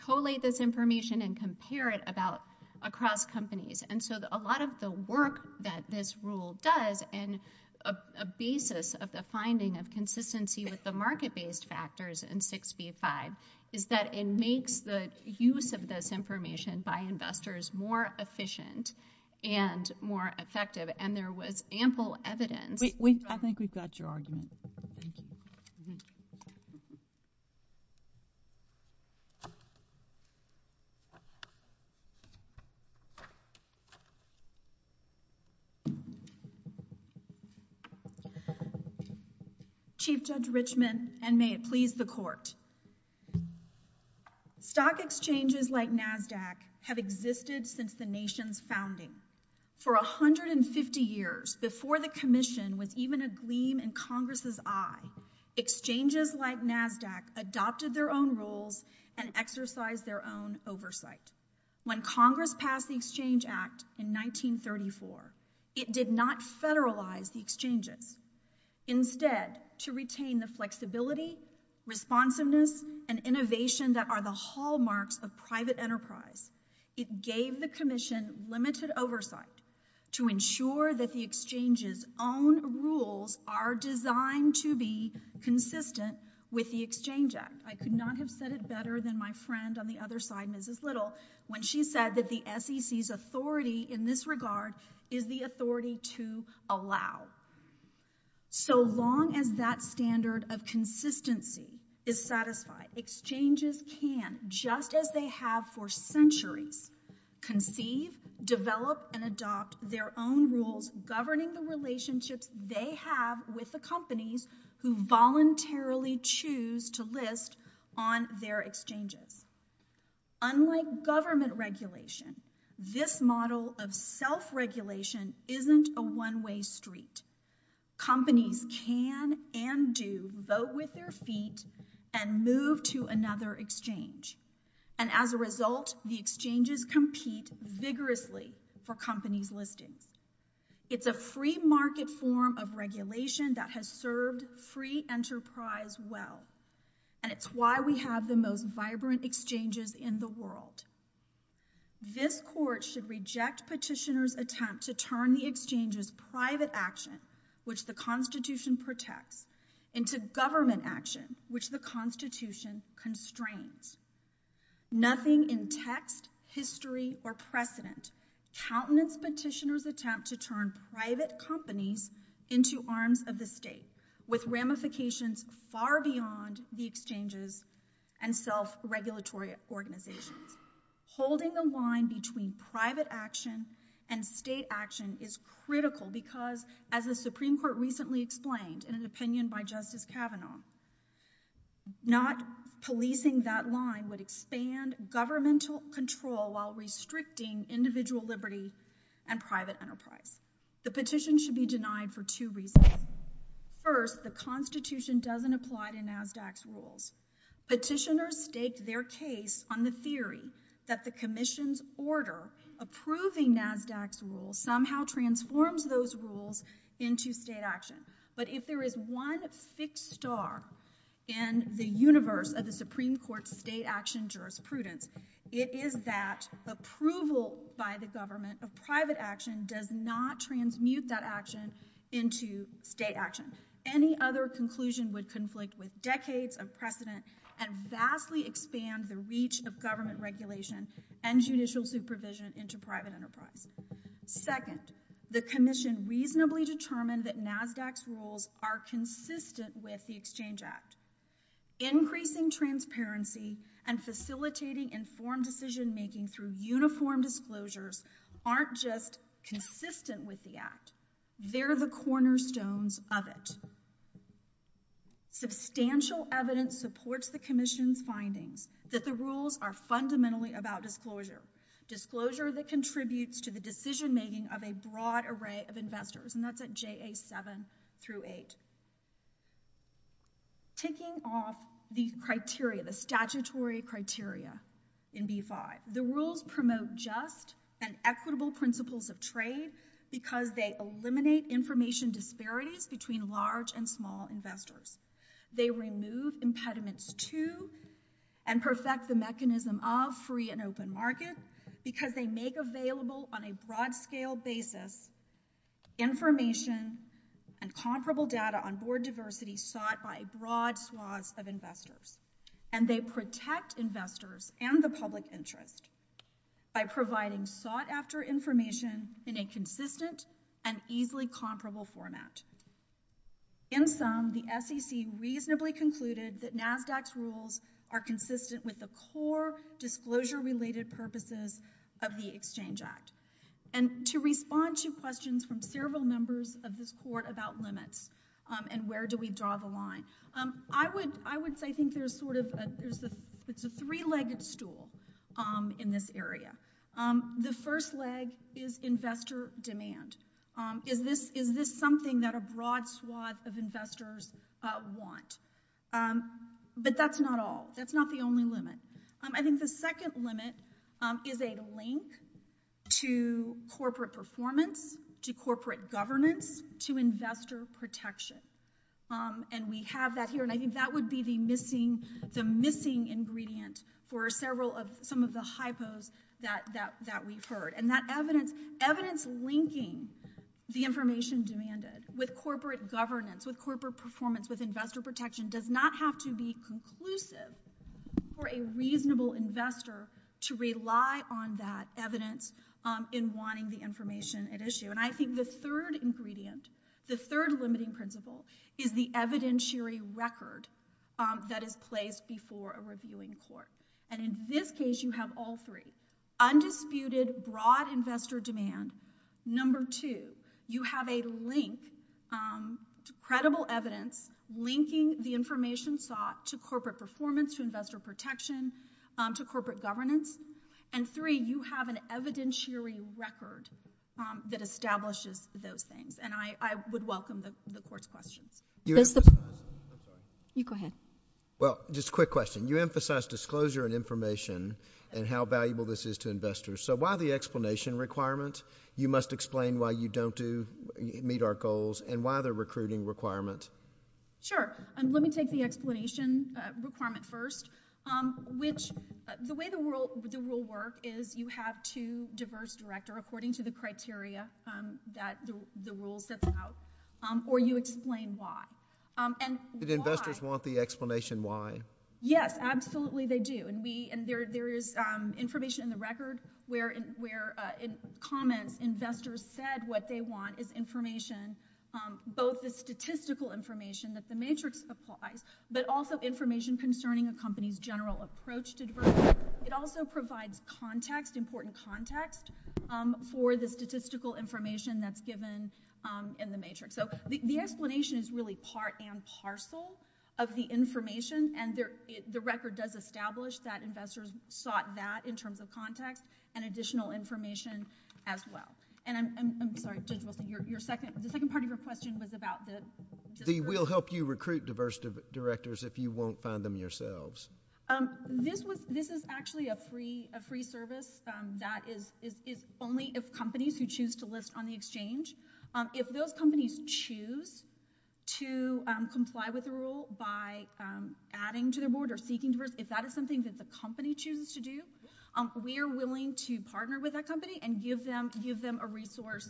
collate this information and compare it across companies. And so a lot of the work that this rule does and a basis of the finding of consistency with the market-based factors in 6b-5 is that it makes the use of this information by investors more efficient and more effective. And there was ample evidence. I think we've got your argument. Thank you. Chief Judge Richmond and may it please the Court. Stock exchanges like NASDAQ have existed since the nation's founding. For 150 years before the Commission was even a gleam in Congress's eye, exchanges like NASDAQ adopted their own rules and exercised their own oversight. When Congress passed the Exchange Act in 1934, it did not federalize the exchanges. Instead, to retain the flexibility, responsiveness, and innovation that are the hallmarks of private enterprise, it gave the Commission limited oversight to ensure that the exchange's own rules are designed to be consistent with the Exchange Act. I could not have said it better than my friend on the other side, Mrs. Little, when she said that the SEC's authority in this regard is the authority to allow. So long as that standard of consistency is satisfied, exchanges can, just as they have for centuries, conceive, develop, and adopt their own rules governing the relationships they have with the companies who voluntarily choose to list on their exchanges. Unlike government regulation, this model of self-regulation isn't a one-way street. Companies can and do vote with their feet and move to another exchange. And as a result, the exchanges compete vigorously for companies' listings. It's a free-market form of regulation that has served free enterprise well, and it's why we have the most vibrant exchanges in the world. This Court should reject petitioners' attempts to turn the exchange's private action, which the Constitution protects, into government action, which the Constitution constrains. Nothing in text, history, or precedent countenance petitioners' attempt to turn private company into arms of the state, with ramifications far beyond the exchanges and self-regulatory organizations. Holding the line between private action and state action is critical because, as the Supreme Court recently explained in an opinion by Justice Kavanaugh, not policing that line would expand governmental control while restricting individual liberty and private enterprise. The petition should be denied for two reasons. First, the Constitution doesn't apply to NASDAQ's rules. Petitioners stake their case on the theory that the Commission's order approving NASDAQ's rules somehow transforms those rules into state action. But if there is one fixed star in the universe of the Supreme Court's state action jurisprudence, it is that approval by the government of private action does not transmute that action into state action. Any other conclusion would conflict with decades of precedent and vastly expand the reach of government regulation and judicial supervision into private enterprise. Second, the Commission reasonably determined that NASDAQ's rules are consistent with the Exchange Act. Increasing transparency and facilitating informed decision-making through uniform disclosures aren't just consistent with the Act. They're the cornerstones of it. Substantial evidence supports the Commission's finding that the rules are fundamentally about disclosure. Disclosure that contributes to the decision-making of a broad array of investors. And that's at JA 7 through 8. Taking off these criteria, the statutory criteria in B-5, the rules promote just and equitable principles of trade because they eliminate information disparities between large and small investors. They remove impediments to and perfect the mechanism of free and open markets because they make available on a broad scale basis information and comparable data on board diversity sought by a broad swath of investors. And they protect investors and the public interest by providing sought-after information in a consistent and easily comparable format. In sum, the SEC reasonably concluded that NASDAQ's rules are consistent with the core disclosure-related purposes of the Exchange Act. And to respond to questions from several members of this Court about limits and where do we draw the line, I would say I think there's sort of a three-legged stool in this area. The first leg is investor demand. Is this something that a broad swath of investors want? But that's not all. That's not the only limit. I think the second limit is a link to corporate performance, to corporate governance, to investor protection. And we have that here. And I think that would be the missing ingredient for several of some of the hypos that we've heard. And that evidence linking the information demanded with corporate governance, with corporate performance, with investor protection does not have to be conclusive for a reasonable investor to rely on that evidence in wanting the information at issue. And I think the third ingredient, the third limiting principle, is the evidentiary record that is placed before a reviewing court. And in this case, you have all three. Undisputed broad investor demand. Number two, you have a link to credible evidence linking the information sought to corporate performance, to investor protection, to corporate governance. And three, you have an evidentiary record that establishes those things. And I would welcome the court's question. You go ahead. Well, just a quick question. You emphasized disclosure and information and how valuable this is to investors. So why the explanation requirement? You must explain why you don't meet our goals and why the recruiting requirement? Sure. And let me take the explanation requirement first, which the way the rule will work is you have two diverse director according to the criteria that the rule sets out or you explain why. And the investors want the explanation why? Yes, absolutely they do. And there is information in the record where in comments, investors said what they want is information, both the statistical information that the matrix applies, but also information concerning a company's general approach to diversity. It also provides context, important context for the statistical information that's given in the matrix. So the explanation is really part and parcel of the information. And the record does establish that investors sought that in terms of context and additional information as well. And I'm sorry, just your second, the second part of your question was about this. We'll help you recruit diverse directors if you won't find them yourselves. This is actually a free service that is only if companies who choose to list on the exchange, if those companies choose to comply with the rule by adding to the board or seeking to, if that are some things that the company chooses to do, we are willing to partner with that company and give them a resource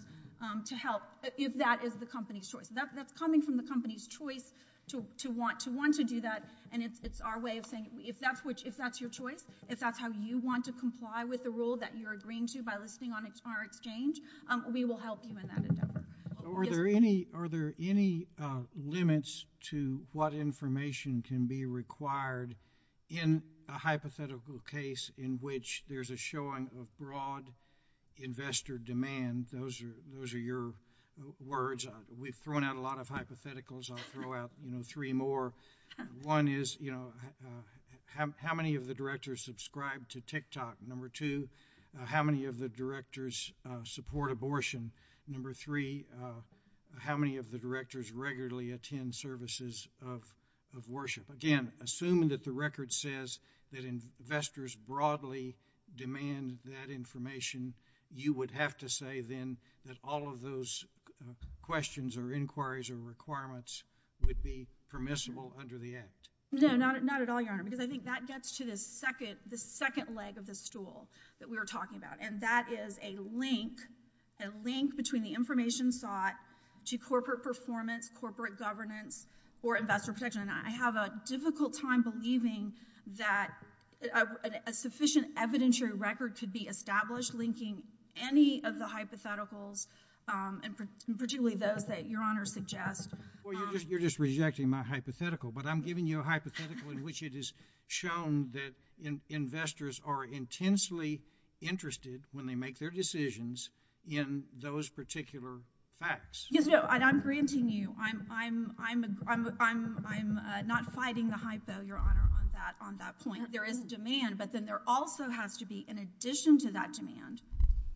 to help if that is the company's choice. That's coming from the company's choice to want to do that. And it's our way of saying if that's your choice, if that's how you want to comply with the rule that you're agreeing to by listing on a smart exchange, we will help you in that endeavor. Are there any limits to what information can be required in a hypothetical case in which there's a showing of fraud investor demand? Those are your words. We've thrown out a lot of hypotheticals. I'll throw out three more. One is, you know, how many of the directors subscribe to TikTok? Number two, how many of the directors support abortion? Number three, how many of the directors regularly attend services of worship? Again, assuming that the record says that investors broadly demand that information, you would have to say then that all of those questions or inquiries or requirements would be permissible under the act. No, not at all, Your Honor, because I think that gets to the second leg of the stool that we were talking about. And that is a link, a link between the information sought to corporate performance, corporate governance or investor protection. And I have a difficult time believing that a sufficient evidentiary record could be established linking any of the hypotheticals and particularly those that Your Honor suggests. Well, you're just rejecting my hypothetical, but I'm giving you a hypothetical in which it is shown that investors are intensely interested when they make their decisions in those particular facts. Yes, I'm granting you. I'm not fighting the hype, though, Your Honor, on that point. There is demand, but then there also has to be an addition to that demand,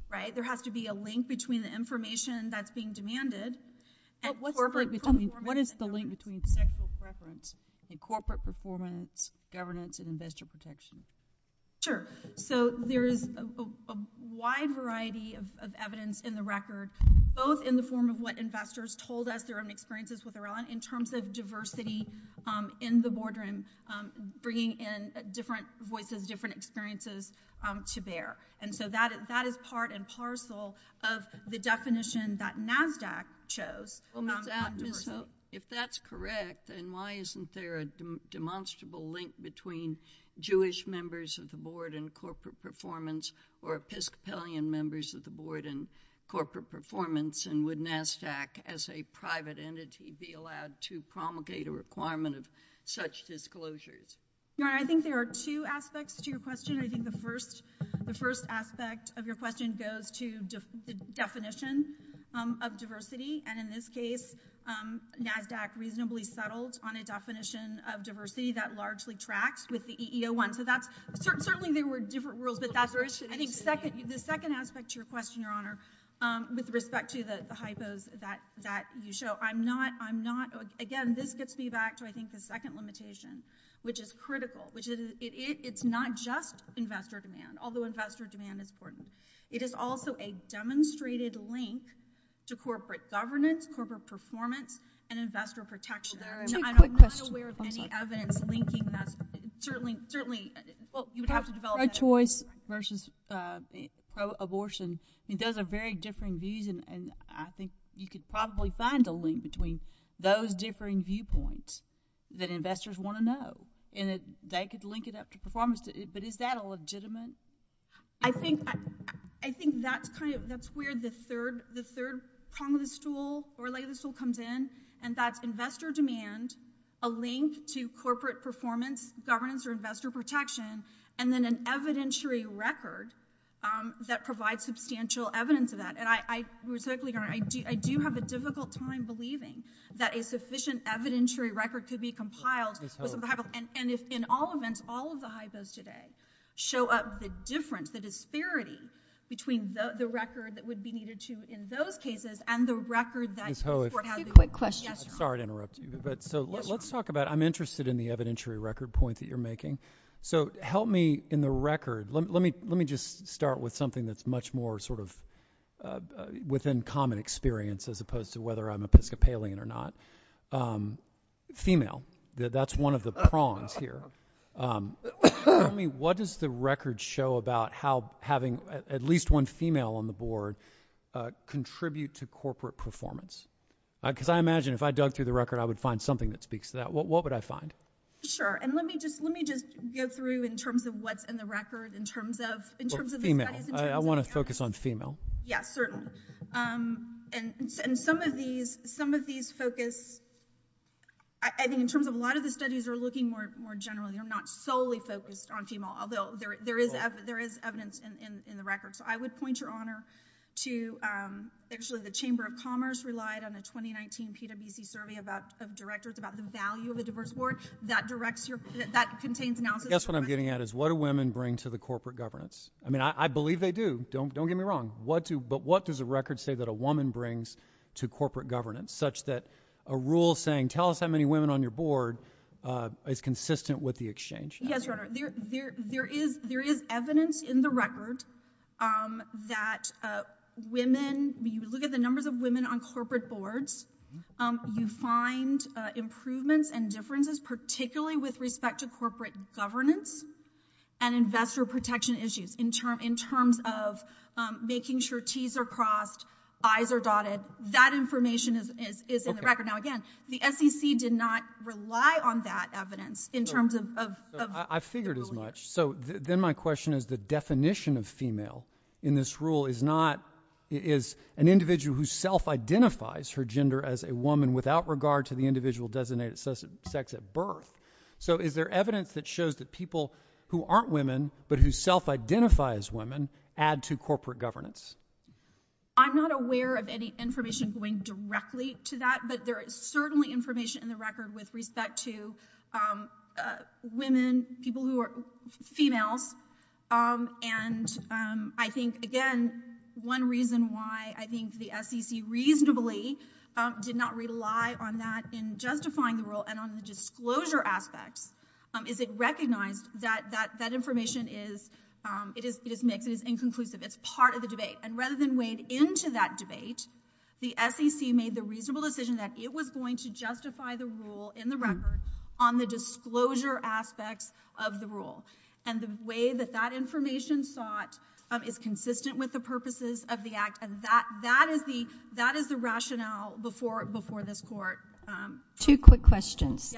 right? There has to be a link between the information that's being demanded. What is the link between sexual preference and corporate performance, governance and investor protection? Sure. So there is a wide variety of evidence in the record, both in the form of what investors told us their own experiences with Aurelion in terms of diversity in the boardroom, bringing in different voices, different experiences to bear. And so that is part and parcel of the definition that NASDAQ chose. If that's correct, then why isn't there a demonstrable link between Jewish members of the board and corporate performance or Episcopalian members of the board and corporate performance? And would NASDAQ as a private entity be allowed to promulgate a requirement of such disclosures? Your Honor, I think there are two aspects to your question. I think the first aspect of your question goes to the definition of diversity. And in this case, NASDAQ reasonably settled on a definition of diversity that largely tracks with the EEO1. So that's certainly there were different rules. I think the second aspect to your question, Your Honor, with respect to the hypos that you show, I'm not, I'm not, again, this gets me back to I think the second limitation, which is critical, which is it's not just investor demand, although investor demand is important. It is also a demonstrated link to corporate governance, corporate performance, and investor protection. Your Honor, I'm not aware of any evidence linking that. Certainly, certainly, well, you would have to develop a choice versus pro-abortion. It does have very differing views. And I think you could probably find a link between those differing viewpoints that investors want to know. And they could link it up to performance. But is that a legitimate? I think, I think that's kind of, that's where the third, prong of the stool, or leg of the stool comes in, and that investor demand, a link to corporate performance, governance, or investor protection, and then an evidentiary record that provides substantial evidence of that. And I, Your Honor, I do have a difficult time believing that a sufficient evidentiary record could be compiled. And if in all events, all of the hypos today show up the difference, the disparity between the record that would be needed to, in those cases, and the record that, for how to, Quick question. Sorry to interrupt you. But let's talk about, I'm interested in the evidentiary record point that you're making. So help me in the record. Let me, let me just start with something that's much more sort of, within common experience, as opposed to whether I'm Episcopalian or not. Female, that's one of the prongs here. What does the record show about how having at least one female on the board contribute to corporate performance? Because I imagine if I dug through the record, I would find something that speaks to that. What would I find? Sure. And let me just, let me just go through, in terms of what's in the record, in terms of, in terms of, Well, female. I want to focus on female. Yeah, certainly. And some of these, some of these focus, I mean, in terms of a lot of the studies are looking more, more generally. They're not solely focused on female, although there is, there is evidence in the record. So I would point your honor to, actually, the Chamber of Commerce relied on the 2019 PwC survey about, of directors, about the value of a diverse board that directs your, that contains analysis. That's what I'm getting at, is what do women bring to the corporate governance? I mean, I believe they do. Don't, don't get me wrong. What do, but what does the record say that a woman brings to corporate governance, such that a rule saying, tell us how many women on your board is consistent with the exchange? Yes, there, there, there is, there is evidence in the record that women, we look at the numbers of women on corporate boards, you find improvements and differences, particularly with respect to corporate governance and investor protection issues in terms, in terms of making sure T's are crossed, I's are dotted. That information is, is in the record. Now, again, the SEC did not rely on that evidence in terms of, of, I figured as much. So then my question is, the definition of female in this rule is not, it is an individual who self-identifies her gender as a woman without regard to the individual designated sex at birth. So is there evidence that shows that people who aren't women, but who self-identifies women add to corporate governance? I'm not aware of any information going directly to that, but there is certainly information in the record with respect to women, people who are female, and I think again, one reason why I think the SEC reasonably did not rely on that in justifying the rule and on the disclosure aspect is it recognized that, that, that information is, it is, it is inconclusive. It's part of the debate. And rather than wade into that debate, the SEC made the reasonable decision that it was going to justify the rule in the record on the disclosure aspect of the rule. And the way that that information thought it's consistent with the purposes of the act, and that, that is the, that is the rationale before, before this court. Two quick questions.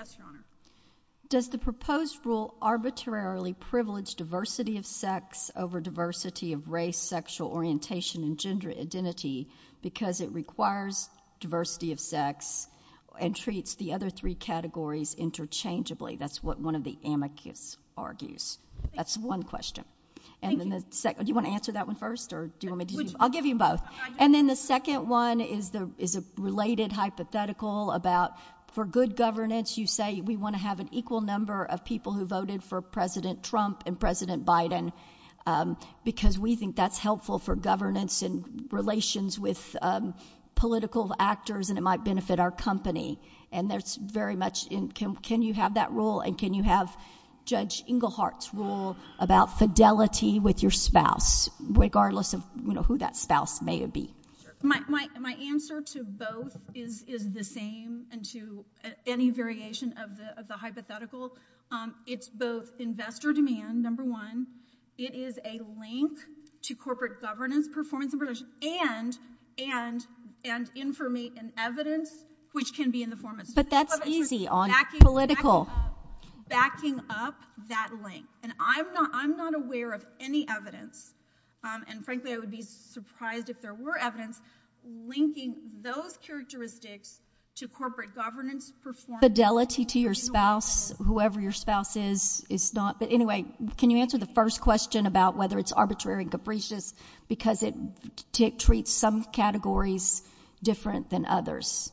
Does the proposed rule arbitrarily privilege diversity of sex over diversity of race, sexual orientation, and gender identity because it requires diversity of sex and treats the other three categories interchangeably? That's what one of the amicus argues. That's one question. And then the second, do you want to answer that one first? Or do you want me to, I'll give you both. And then the second one is the, is a related hypothetical about for good governance, you say we want to have an equal number of people who voted for President Trump and President Biden because we think that's helpful for governance and relations with political actors and it might benefit our company. And there's very much in, can you have that rule? And can you have Judge Englehart about fidelity with your spouse, regardless of who that spouse may be? My answer to both is the same and to any variation of the hypothetical. It's both investor demand, number one. It is a link to corporate governance, performance and relations and information and evidence which can be in the form of- But that's easy on political. Backing up that link. And I'm not aware of any evidence. And frankly, I would be surprised if there were evidence linking those characteristics to corporate governance, performance- Fidelity to your spouse, whoever your spouse is, it's not. But anyway, can you answer the first question about whether it's arbitrary and capricious because it treats some categories different than others.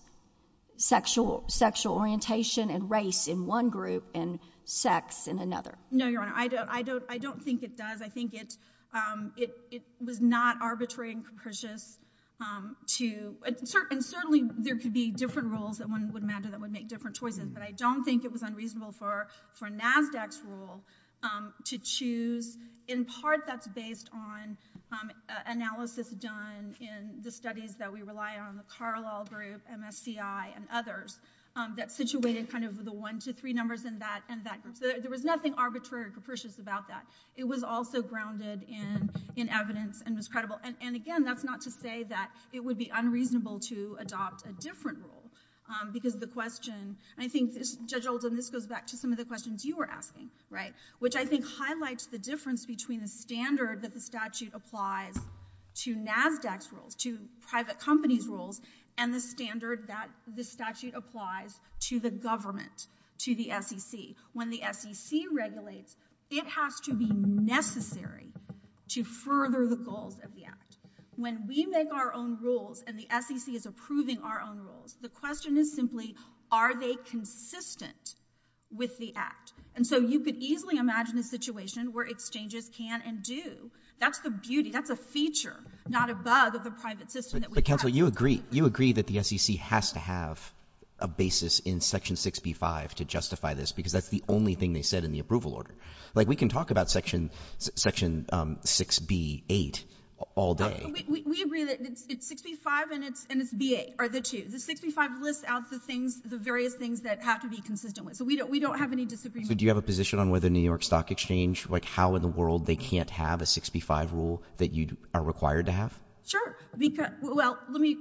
Sexual orientation and race in one group and sex in another. No, Your Honor, I don't think it does. I think it was not arbitrary and capricious to- And certainly there could be different rules that one would imagine that would make different choices, but I don't think it was unreasonable for NASDAQ's rule to choose. In part, that's based on analysis done in the studies that we rely on, the Carlisle Group, MFCI and others that situated kind of the one to three numbers in that. And there was nothing arbitrary and capricious about that. It was also grounded in evidence and was credible. And again, that's not to say that it would be unreasonable to adopt a different rule because the question- I think, Judge Oldham, this goes back to some of the questions you were asking, right? Which I think highlights the difference between the standard that the statute applies to NASDAQ's rules, to private companies' rules, and the standard that the statute applies to the government, to the SEC. When the SEC regulates, it has to be necessary to further the goals of the act. When we make our own rules and the SEC is approving our own rules, the question is simply, are they consistent with the act? And so you could easily imagine a situation where exchanges can and do. That's the beauty. That's a feature, not a bug of the private system. But counsel, you agree. You agree that the SEC has to have a basis in Section 6B-5 to justify this because that's the only thing they said in the approval order. Like, we can talk about Section 6B-8 all day. We agree that it's 65 and it's B-8, or the two. The 65 lists out the things, the various things that have to be consistent with. So we don't have any disagreements. Do you have a position on whether New York Stock Exchange, like, how in the world they can't have a 6B-5 rule that you are required to have? Sure. Well, let me-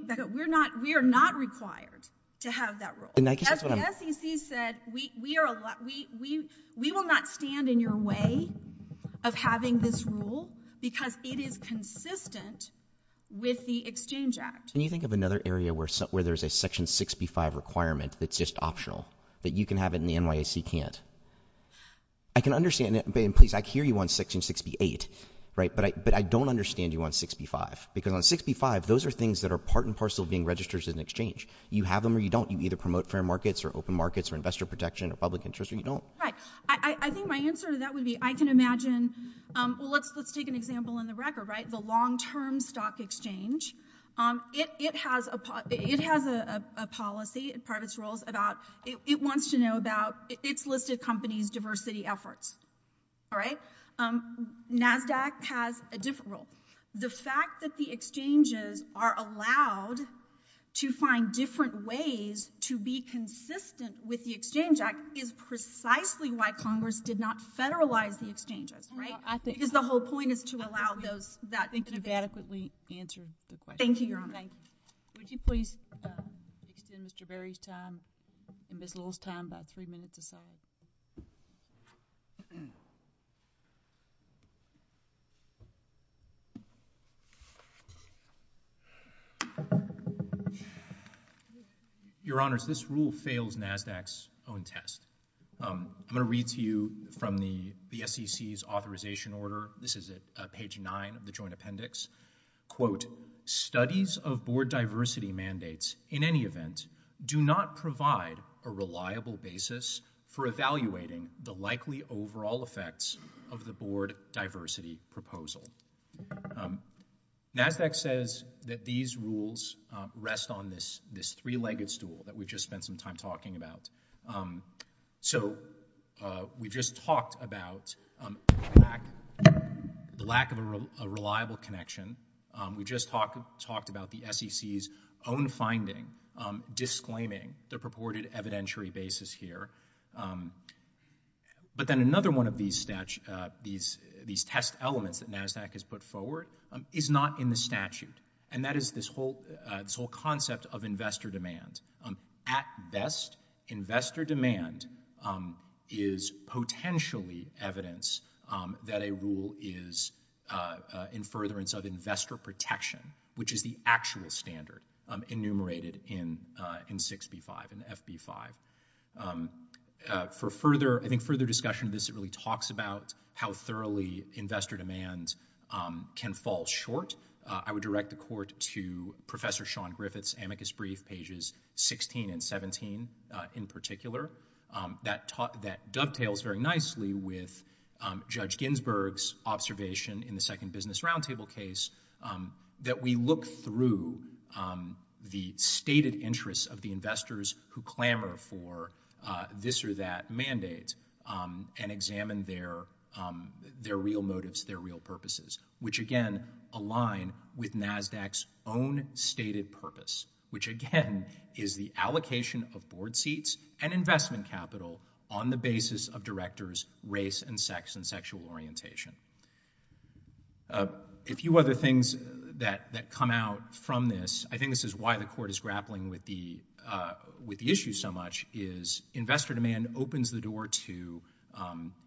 We are not required to have that rule. As the SEC said, we will not stand in your way of having this rule because it is consistent with the Exchange Act. Can you think of another area where there's a Section 6B-5 requirement that's just optional, that you can have it and the NYC can't? I can understand that, but please, I hear you on Section 6B-8, right, but I don't understand you on 6B-5 because on 6B-5, those are things that are part and parcel of being registered as an exchange. You have them or you don't. You either promote fair markets or open markets or investor protection or public interest or you don't. Right. I think my answer to that would be, I can imagine- Well, let's take an example on the record, right? The long-term stock exchange, it has a policy as part of its rules about- it wants to know about its listed company's diversity efforts. All right? NASDAQ has a different rule. The fact that the exchanges are allowed to find different ways to be consistent with the Exchange Act is precisely why Congress did not federalize the exchanges, right? Well, I think- Because the whole point is to allow those- Thank you for adequately answering the question. Thank you, Your Honor. Thank you. Would you please give Mr. Berry time? And Ms. Little's time, about three minutes or so. Your Honors, this rule fails NASDAQ's own test. I'm going to read to you from the SEC's authorization order. This is at page nine of the joint appendix. Quote, Studies of board diversity mandates in any event do not provide a reliable basis for evaluating the likely overall effects of the board diversity proposal. NASDAQ says that these rules rest on this three-legged stool that we just spent some time talking about. So we just talked about the lack of a reliable connection. We just talked about the SEC's own finding disclaiming the purported evidentiary basis here. But then another one of these test elements that NASDAQ has put forward is not in the statute. And that is this whole concept of investor demand. At best, investor demand is potentially evidence that a rule is in furtherance of investor protection, which is the actual standard enumerated in 6B5 and FB5. For further discussion of this, it really talks about how thoroughly investor demand can fall short. I would direct the court to Professor Sean Griffith's amicus brief, pages 16 and 17, in particular, that dovetails very nicely with Judge Ginsburg's observation in the second business roundtable case that we look through the stated interests of the investors who clamor for this or that mandate and examine their real motives, their real purposes, which again align with NASDAQ's own stated purpose, which again is the allocation of board seats and investment capital on the basis of directors' race and sex and sexual orientation. A few other things that come out from this, I think this is why the court is grappling with the issue so much, is investor demand opens the door to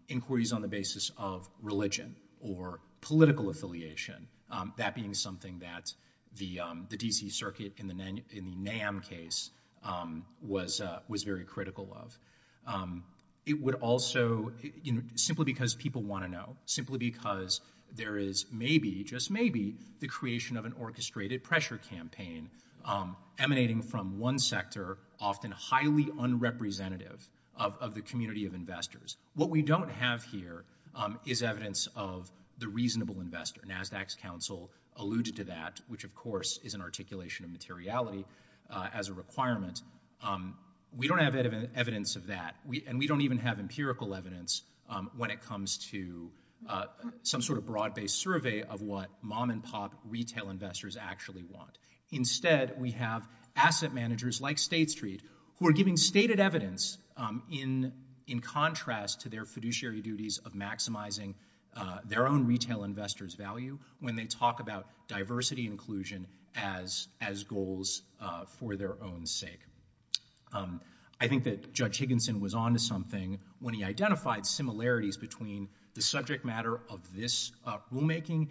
inquiries on the basis of religion or political affiliation, that being something that the D.C. Circuit in the NAM case was very critical of. It would also, simply because people want to know, simply because there is maybe, just maybe, the creation of an orchestrated pressure campaign emanating from one sector, often highly unrepresentative of the community of investors. What we don't have here is evidence of the reasonable investor. NASDAQ's counsel alluded to that, which of course is an articulation of materiality as a requirement. We don't have evidence of that and we don't even have empirical evidence when it comes to some sort of broad-based survey of what mom-and-pop retail investors actually want. Instead, we have asset managers like State Street who are giving stated evidence in contrast to their fiduciary duties of maximizing their own retail investors' value when they talk about diversity inclusion as goals for their own sake. I think that Judge Higginson was onto something when he identified similarities between the subject matter of this rulemaking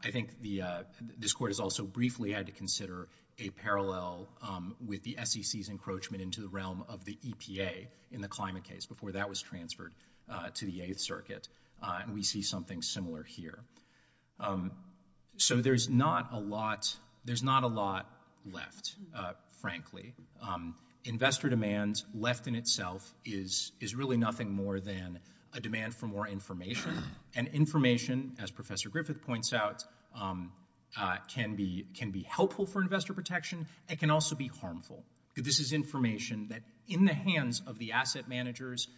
I think this court has also briefly had to consider a parallel with the SEC's encroachment into the realm of the EPA in the climate case before that was transferred to the Eighth Circuit and we see something similar here. So there's not a lot left, frankly. Investor demand left in itself is really nothing more than a demand for more information and information, as Professor Griffith points out, can be helpful for investor protection. It can also be harmful. This is information that in the hands of the asset managers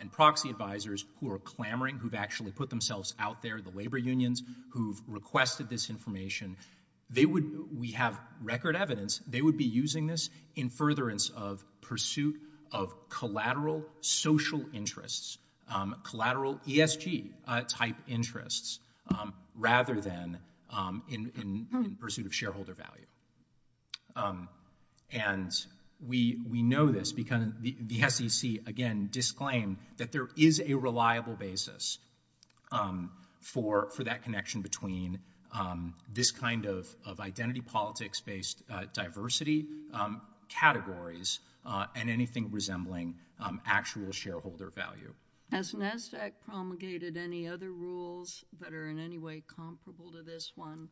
and proxy advisors who are clamoring, who've actually put themselves out there, the labor unions who've requested this information, we have record evidence they would be using this in furtherance of pursuit of collateral social interests, collateral ESG-type interests rather than in pursuit of shareholder value. And we know this because the SEC, again, disclaimed that there is a reliable basis for that connection between this kind of identity politics-based diversity, categories, and anything resembling actual shareholder value. Has NSEC promulgated any other rules that are in any way comparable to this one?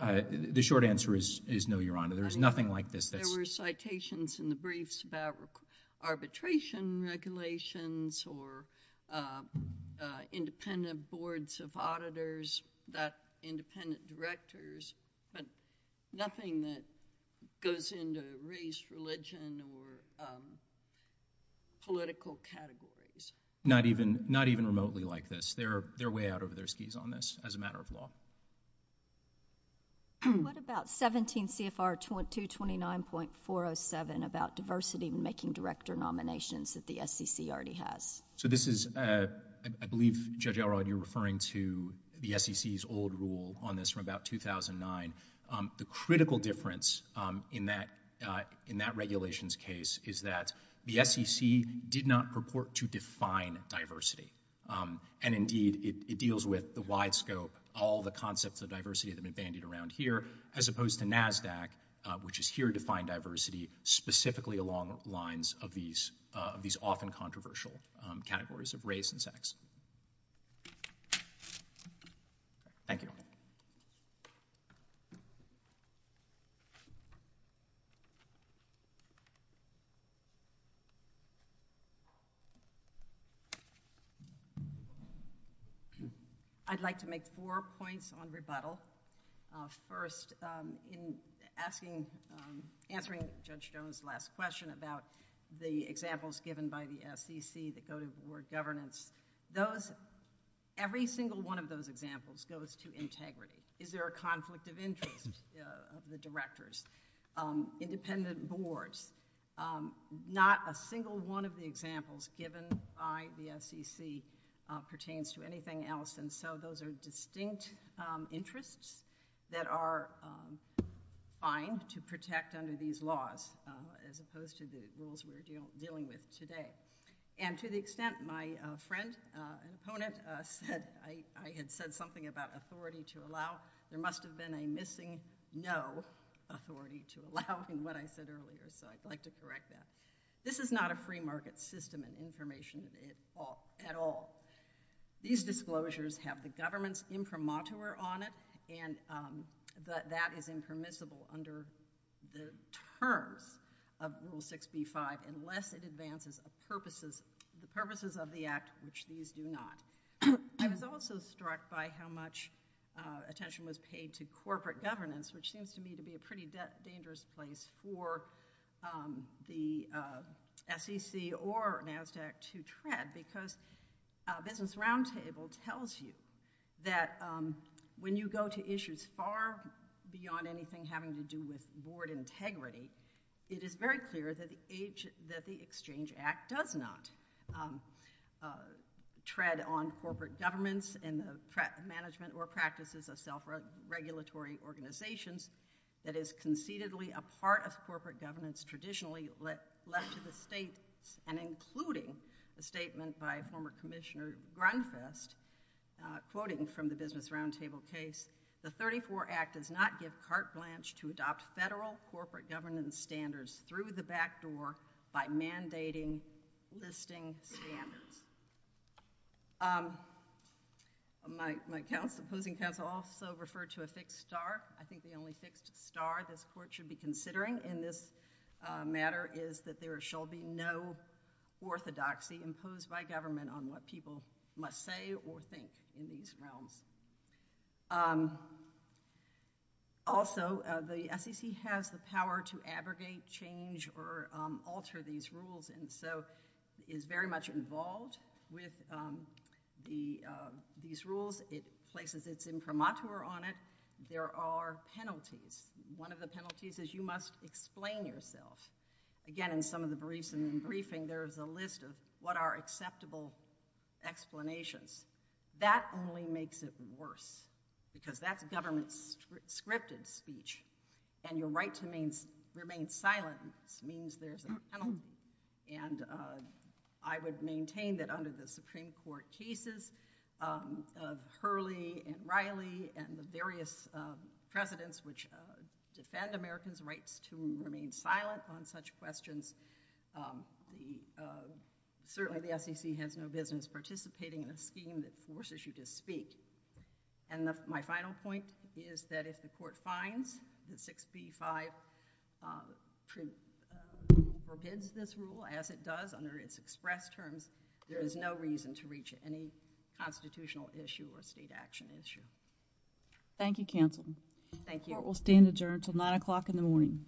The short answer is no, Your Honor. There is nothing like this. There were citations in the briefs about arbitration regulations or independent boards of auditors, about independent directors, but nothing that goes into race, religion, or political categories. Not even remotely like this. They're way out of their skis on this as a matter of law. What about 17 CFR 2229.407 about diversity in making director nominations that the SEC already has? So this is, I believe, Judge Arrowhead, you're referring to the SEC's old rule on this from about 2009. The critical difference in that regulations case is that the SEC did not purport to define diversity. And indeed, it deals with the wide scope, all the concepts of diversity that have been bandied around here, as opposed to NASDAQ, which is here to define diversity specifically along the lines of these often controversial categories of race and sex. Thank you. I'd like to make four points on rebuttal. First, in answering Judge Jones' last question about the examples given by the SEC that go to the word governance. for us to be able to talk about, and I think that's a good point for us to be able to talk about. Is there a conflict of interest of the directors, independent boards? Not a single one of the examples given by the SEC pertains to anything else. And so those are distinct interests that are fine to protect under these laws, as opposed to the rules we're dealing with today. And to the extent my friend, an opponent said, I had said something about authority to allow. There must have been a missing, no authority to allow from what I said earlier. So I'd like to correct that. This is not a free market system and information at all. These disclosures have the government's imprimatur on it, and that is impermissible under the terms of Rule 65, unless it advances the purposes of the act, which these do not. I was also struck by how much attention was paid to corporate governance, which seems to me to be a pretty dangerous place for the SEC or NASDAQ to tread, because Business Roundtable tells you that when you go to issues far beyond anything having to do with board integrity, it is very clear that the Exchange Act does not tread on corporate governance and management or practices of self-regulatory organizations. That is concededly a part of corporate governance, traditionally left to the state, and including the statement by former Commissioner Grunfest, quoting from the Business Roundtable case, the 34 Act does not give carte blanche to adopt federal corporate governance standards through the back door by mandating listing standards. My opposing counsel also referred to a fixed star. I think the only fixed star this Court should be considering in this matter is that there shall be no orthodoxy imposed by government on what people must say or think in these realms. Also, the SEC has the power to abrogate change or alter these rules, and so is very much involved with these rules. It places its infirmature on it. There are penalties. One of the penalties is you must explain yourself. Again, in some of the briefings, there's a list of what are acceptable explanations. That only makes it worse because that's government-scripted speech, and your right to remain silent means there's a penalty. I would maintain that under the Supreme Court cases of Hurley and Riley and the various presidents which defend Americans' right to remain silent on such questions, certainly the SEC has no business participating in a scheme that forces you to speak. My final point is that if the Court finds the 6B-5 treaty forbids this rule as it does under its express terms, there is no reason to reach any constitutional issue or state action issue. Thank you, Counselor. Thank you. Court will stand adjourned until 9 o'clock in the morning.